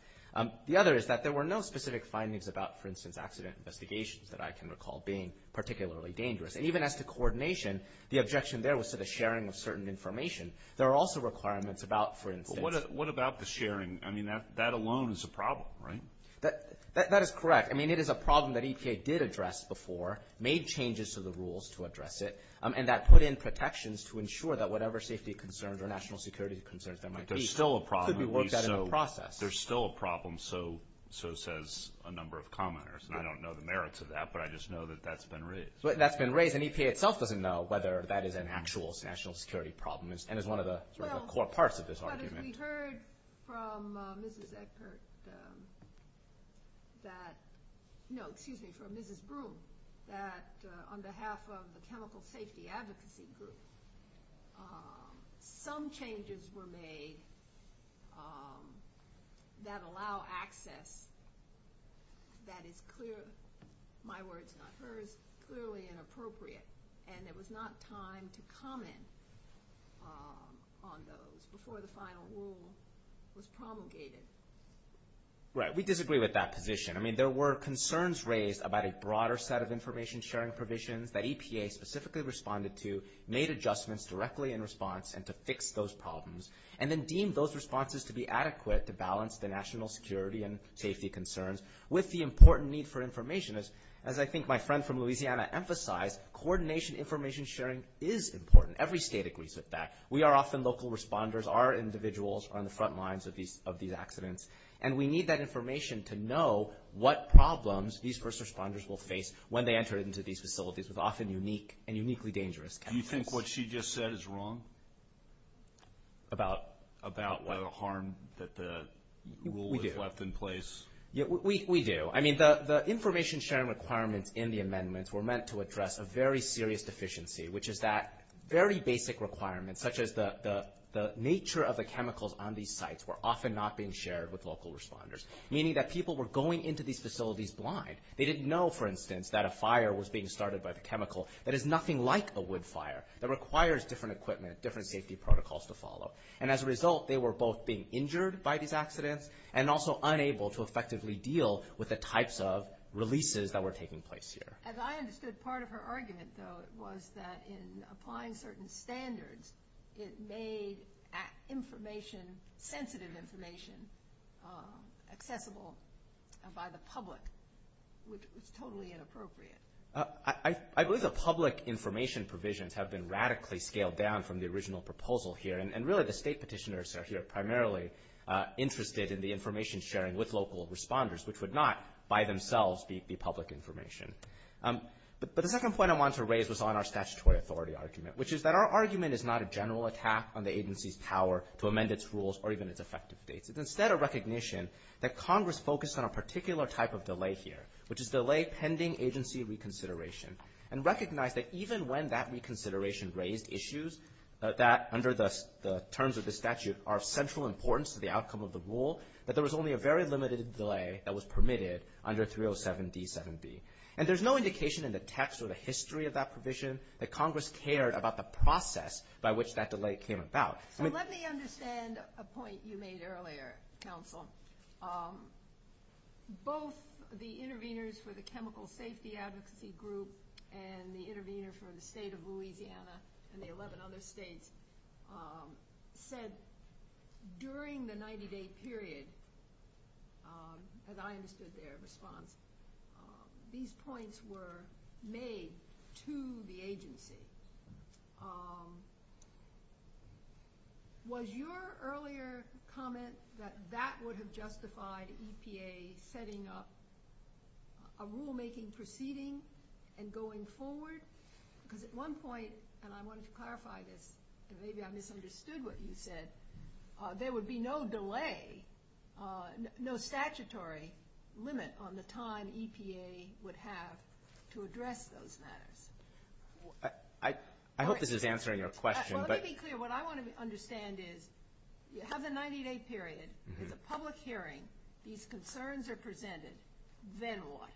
The other is that there were no specific findings about, for instance, accident investigations that I can recall being particularly dangerous. And even as to coordination, the objection there was to the sharing of certain information. There are also requirements about, for instance – What about the sharing? I mean, that alone is a problem, right? That is correct. I mean, it is a problem that EPA did address before, made changes to the rules to address it, and that put in protections to ensure that whatever safety concerns or national security concerns that might be, could be worked out in the process. There's still a problem, so says a number of commenters, and I don't know the merits of that, but I just know that that's been raised. That's been raised, and EPA itself doesn't know whether that is an actual national security problem and is one of the core parts of this argument. We heard from Mrs. Eckert that – no, excuse me, from Mrs. Boone, that on behalf of the chemical safety advocacy group, some changes were made that allow access that is clearly – my words, not hers – clearly inappropriate, and there was not time to comment on those before the final rule was promulgated. Right. We disagree with that position. I mean, there were concerns raised about a broader set of information sharing provisions that EPA specifically responded to, made adjustments directly in response, and to fix those problems, and then deemed those responses to be adequate to balance the national security and safety concerns with the important need for information. As I think my friend from Louisiana emphasized, coordination information sharing is important. Every state agrees with that. We are often local responders. Our individuals are on the front lines of these accidents, and we need that information to know what problems these first responders will face when they enter into these facilities. It's often unique and uniquely dangerous. Do you think what she just said is wrong about the harm that the rule left in place? We do. We do. I mean, the information sharing requirements in the amendments were meant to address a very serious deficiency, which is that very basic requirements, such as the nature of the chemicals on these sites, were often not being shared with local responders, meaning that people were going into these facilities blind. They didn't know, for instance, that a fire was being started by the chemical. That is nothing like a wood fire. It requires different equipment, different safety protocols to follow. And as a result, they were both being injured by these accidents and also unable to effectively deal with the types of releases that were taking place here. As I understood, part of her argument, though, was that in applying certain standards, it made information, sensitive information, accessible by the public, which was totally inappropriate. I believe the public information provisions have been radically scaled down from the original proposal here, and really the state petitioners here are primarily interested in the information sharing with local responders, which would not by themselves be public information. But the second point I wanted to raise was on our statutory authority argument, which is that our argument is not a general attack on the agency's power to amend its rules or even its effectiveness. It's instead a recognition that Congress focused on a particular type of delay here, which is delay pending agency reconsideration, and recognize that even when that reconsideration raised issues that, under the terms of the statute, are of central importance to the outcome of the rule, that there was only a very limited delay that was permitted under 307D7B. And there's no indication in the text or the history of that provision that Congress cared about the process by which that delay came about. Both the intervenors for the chemical safety advocacy group and the intervenors from the state of Louisiana and the 11 other states said during the 90-day period, as I understood their response, these points were made to the agency. Was your earlier comment that that would have justified EPA setting up a rulemaking proceeding and going forward? Because at one point, and I wanted to clarify this, and maybe I misunderstood what you said, there would be no delay, no statutory limit on the time EPA would have to address those matters. I hope this is answering your question. Let me be clear. What I want to understand is you have the 90-day period. It's a public hearing. These concerns are presented. Then what?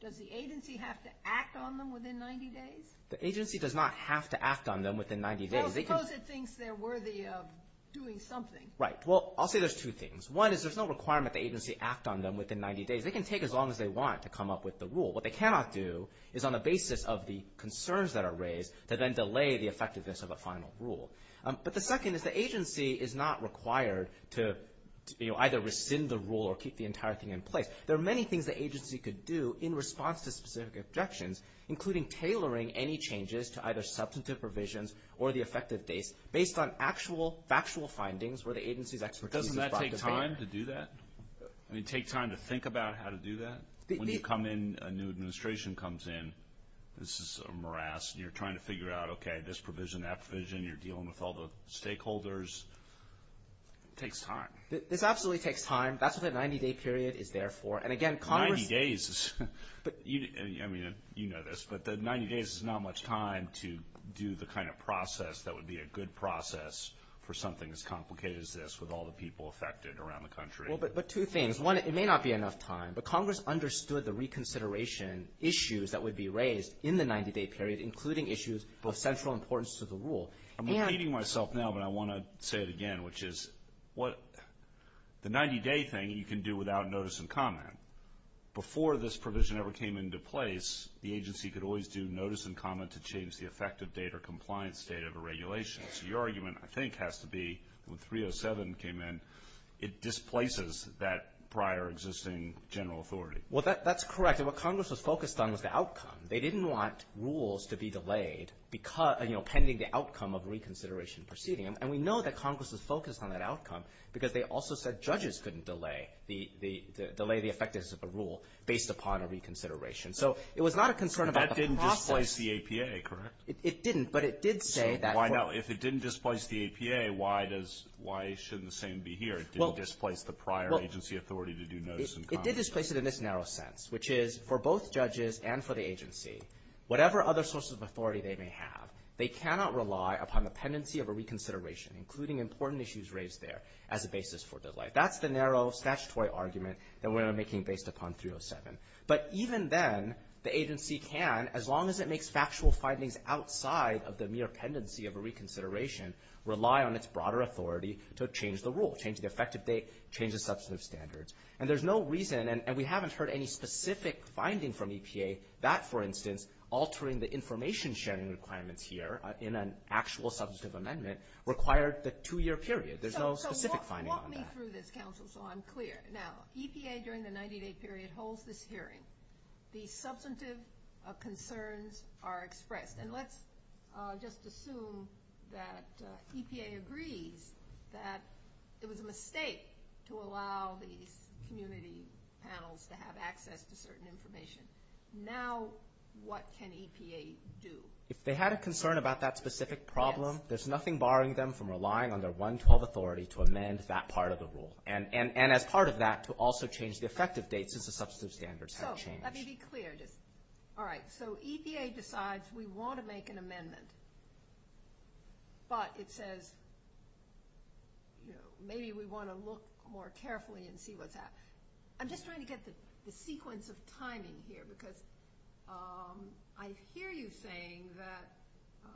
Does the agency have to act on them within 90 days? The agency does not have to act on them within 90 days. Well, suppose it thinks they're worthy of doing something. Right. Well, I'll say there's two things. One is there's no requirement the agency act on them within 90 days. They can take as long as they want to come up with the rule. What they cannot do is, on the basis of the concerns that are raised, to then delay the effectiveness of a final rule. But the second is the agency is not required to either rescind the rule or keep the entire thing in place. There are many things the agency could do in response to specific objections, including tailoring any changes to either substantive provisions or the effective dates, based on actual factual findings where the agency's expertise is brought to bear. Doesn't that take time to do that? I mean, take time to think about how to do that? When you come in, a new administration comes in, this is a morass, and you're trying to figure out, okay, this provision, that provision. You're dealing with all the stakeholders. It takes time. It absolutely takes time. That's what a 90-day period is there for. And, again, Congress ---- 90 days. I mean, you know this, but 90 days is not much time to do the kind of process that would be a good process for something as complicated as this, with all the people affected around the country. But two things. One, it may not be enough time, but Congress understood the reconsideration issues that would be raised in the 90-day period, including issues of central importance to the rule. I'm repeating myself now, but I want to say it again, which is the 90-day thing you can do without notice and comment. Before this provision ever came into place, the agency could always do notice and comment to change the effective date or compliance date of a regulation. So your argument, I think, has to be when 307 came in, it displaces that prior existing general authority. Well, that's correct. And what Congress was focused on was the outcome. They didn't want rules to be delayed, you know, pending the outcome of a reconsideration proceeding. And we know that Congress was focused on that outcome because they also said judges couldn't delay the effectiveness of the rule based upon a reconsideration. So it was not a concern about the process. That didn't displace the APA, correct? It didn't, but it did say that ---- If it didn't displace the APA, why shouldn't the same be here? It didn't displace the prior agency authority to do notice and comment. It did displace it in this narrow sense, which is for both judges and for the agency, whatever other sources of authority they may have, they cannot rely upon the pendency of a reconsideration, including important issues raised there, as a basis for delay. That's the narrow statutory argument that we're making based upon 307. But even then, the agency can, as long as it makes factual findings outside of the mere pendency of a reconsideration, rely on its broader authority to change the rule, change the effective date, change the substantive standards. And there's no reason, and we haven't heard any specific finding from EPA, that, for instance, altering the information sharing requirements here in an actual substantive amendment required the two-year period. There's no specific finding on that. So walk me through this, Counsel, so I'm clear. Now, EPA, during the 90-day period, holds this hearing. The substantive concerns are expressed. And let's just assume that EPA agreed that it was a mistake to allow the community panels to have access to certain information. Now what can EPA do? If they had a concern about that specific problem, there's nothing barring them from relying on their 112 authority to amend that part of the rule. And as part of that, to also change the effective date since the substantive standards have changed. So let me be clear. All right, so EPA decides we want to make an amendment, but it says, you know, maybe we want to look more carefully and see what's happened. I'm just trying to get the sequence of timing here because I hear you saying that,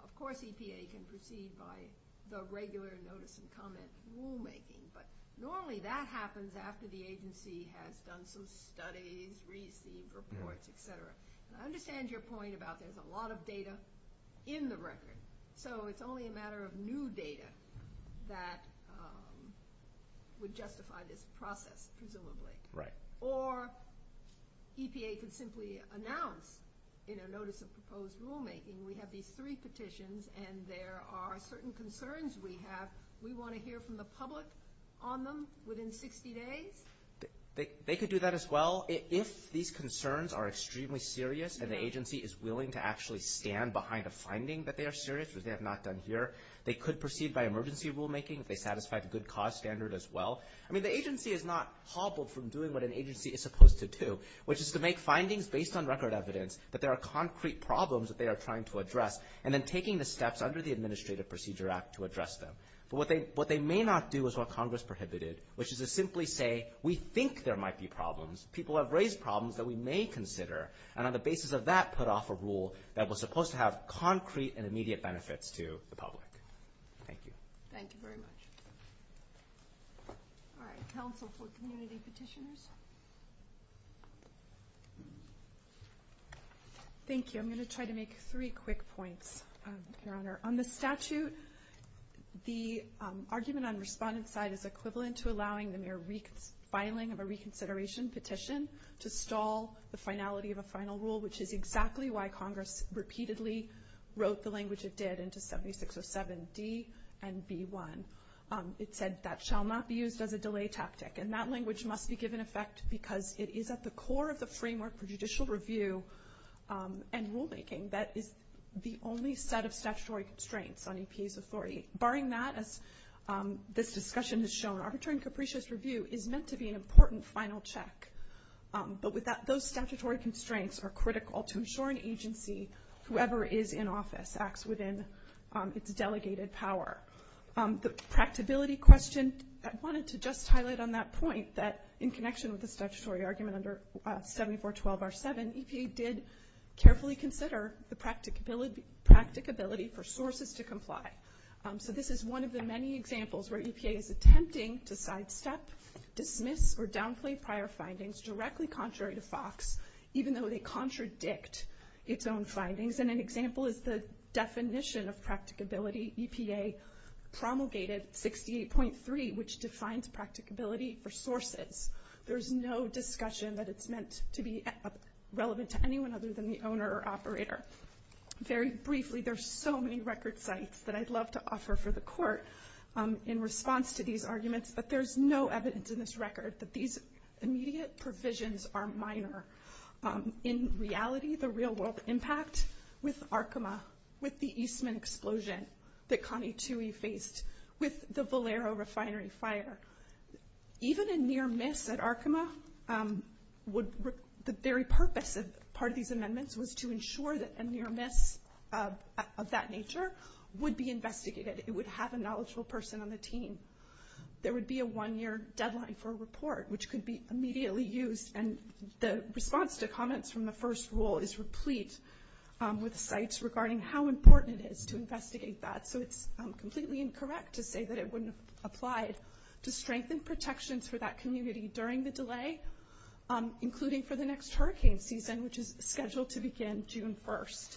of course, EPA can proceed by the regular notice and comment rulemaking. But normally that happens after the agency has done some studies, received reports, et cetera. I understand your point about there's a lot of data in the record. So it's only a matter of new data that would justify this process, presumably. Right. Or EPA could simply announce in a notice of proposed rulemaking, we have these three petitions and there are certain concerns we have. We want to hear from the public on them within 60 days. They could do that as well if these concerns are extremely serious and the agency is willing to actually stand behind a finding that they are serious, which they have not done here. They could proceed by emergency rulemaking if they satisfy the good cause standard as well. I mean, the agency is not hobbled from doing what an agency is supposed to do, which is to make findings based on record evidence that there are concrete problems that they are trying to address and then taking the steps under the Administrative Procedure Act to address them. But what they may not do is what Congress prohibited, which is to simply say, we think there might be problems. People have raised problems that we may consider, and on the basis of that put off a rule that was supposed to have concrete and immediate benefits to the public. Thank you. Thank you very much. All right, counsel for community petitions. Thank you. I'm going to try to make three quick points, Your Honor. On the statute, the argument on the respondent's side is equivalent to allowing the mere filing of a reconsideration petition to stall the finality of a final rule, which is exactly why Congress repeatedly wrote the language it did into 7607D and B1. It said that shall not be used as a delay tactic, and that language must be given effect because it is at the core of the framework for judicial review and rulemaking. That is the only set of statutory constraints on EPA's authority. Barring that, as this discussion has shown, arbitrary and capricious review is meant to be an important final check. But those statutory constraints are critical to ensure an agency, whoever is in office, acts within its delegated power. The practicability question, I wanted to just highlight on that point that, in connection with the statutory argument under 7412R7, EPA did carefully consider the practicability for sources to comply. So this is one of the many examples where EPA is attempting to sidestep, dismiss, or downplay prior findings directly contrary to FOX, even though they contradict its own findings. And an example is the definition of practicability. EPA promulgated 68.3, which defines practicability for sources. There is no discussion that it's meant to be relevant to anyone other than the owner or operator. Very briefly, there are so many record sites that I'd love to offer for the Court in response to these arguments, but there is no evidence in this record that these immediate provisions are minor. In reality, the real-world impact with Arkema, with the Eastman explosion that Connie Tuohy faced, with the Valero refinery fire, even a near-miss at Arkema, the very purpose of part of these amendments was to ensure that a near-miss of that nature would be investigated. It would have a knowledgeable person on the team. There would be a one-year deadline for a report, which could be immediately used, and the response to comments from the first rule is replete with sites regarding how important it is to investigate that. So it's completely incorrect to say that it wouldn't have applied to strengthen protections for that community during the delay, including for the next hurricane season, which is scheduled to begin June 1st.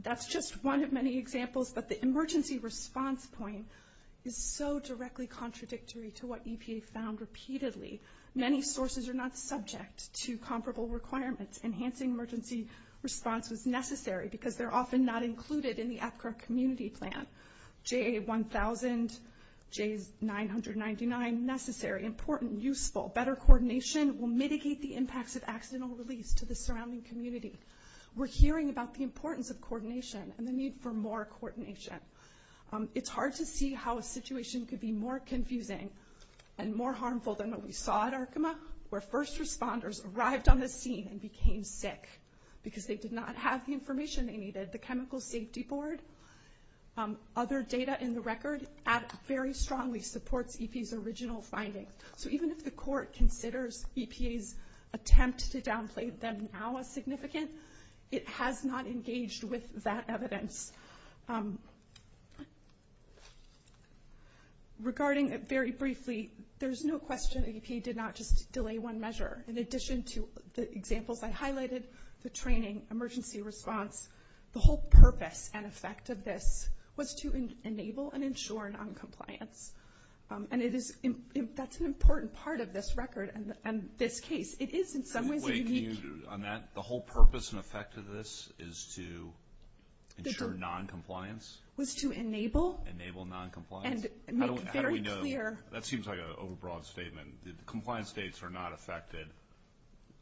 That's just one of many examples, but the emergency response point is so directly contradictory to what EPA found repeatedly. Many sources are not subject to comparable requirements. Enhancing emergency response is necessary because they're often not included in the AFPRA community plan. JA1000, J999, necessary, important, useful, better coordination will mitigate the impacts of accidental release to the surrounding community. We're hearing about the importance of coordination and the need for more coordination. It's hard to see how a situation could be more confusing and more harmful than what we saw at Arkema, where first responders arrived on the scene and became sick because they did not have the information they needed. The Chemical Safety Board, other data in the record, very strongly supports EPA's original findings. So even if the court considers EPA's attempt to downplay them now as significant, it has not engaged with that evidence. Regarding it very briefly, there's no question that EPA did not just delay one measure. In addition to the examples I highlighted, the training, emergency response, the whole purpose and effect of this was to enable and ensure noncompliance. And that's an important part of this record and this case. It is, in some ways, a unique... Wait, can you, on that, the whole purpose and effect of this is to ensure noncompliance? Was to enable... Enable noncompliance. And make very clear... That seems like an overbroad statement. Compliance dates are not affected.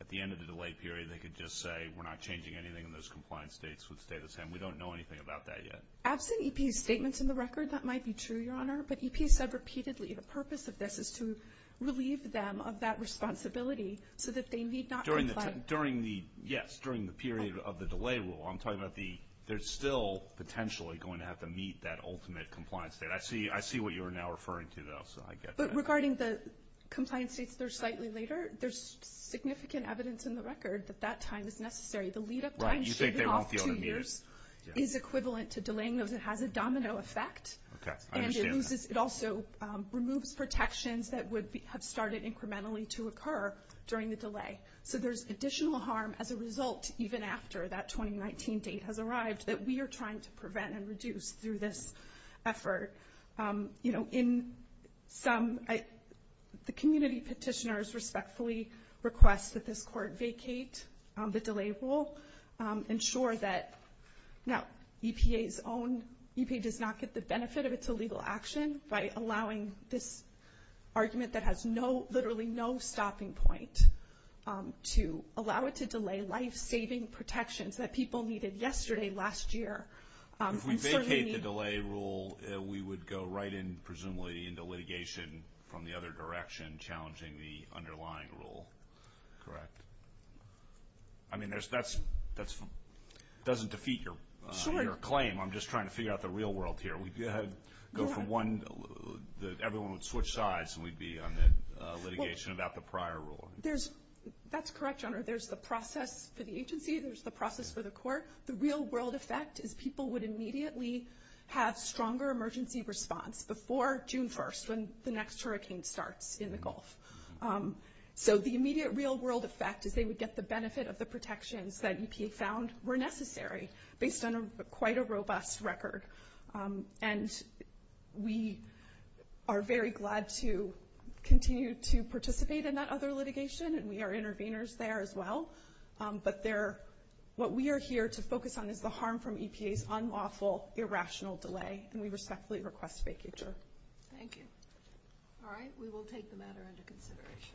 At the end of the delay period, they could just say, we're not changing anything in those compliance dates with the data set. We don't know anything about that yet. As in EPA's statements in the record, that might be true, Your Honor. But EPA said repeatedly, the purpose of this is to relieve them of that responsibility so that they need not comply. During the, yes, during the period of the delay rule, I'm talking about the, they're still potentially going to have to meet that ultimate compliance date. I see what you are now referring to, though, so I get that. But regarding the compliance dates that are slightly later, there's significant evidence in the record that that time is necessary. Right. You think they won't be able to meet it. The opportunity is equivalent to delaying those. It has a domino effect. Okay. I understand that. And it also removes protections that would have started incrementally to occur during the delay. So there's additional harm as a result, even after that 2019 date has arrived, that we are trying to prevent and reduce through this effort. You know, in some, the community petitioners respectfully request that this court vacate the delay rule, ensure that, no, EPA's own, EPA does not get the benefit of its illegal action by allowing this argument that has no, literally no stopping point, to allow it to delay life-saving protections that people needed yesterday, last year. If we vacate the delay rule, we would go right in, presumably, into litigation from the other direction, challenging the underlying rule. Correct. I mean, that doesn't defeat your claim. I'm just trying to figure out the real world here. We'd go for one, everyone would switch sides, and we'd be on litigation about the prior rule. That's correct, Your Honor. There's the process to the agency. There's the process for the court. The real-world effect is people would immediately have stronger emergency response before June 1st, when the next hurricane starts in the Gulf. So the immediate real-world effect is they would get the benefit of the protections that EPA found were necessary, based on quite a robust record. And we are very glad to continue to participate in that other litigation, and we are interveners there as well. But what we are here to focus on is the harm from EPA's unlawful, irrational delay, and we respectfully request vacature. Thank you. All right, we will take the matter into consideration.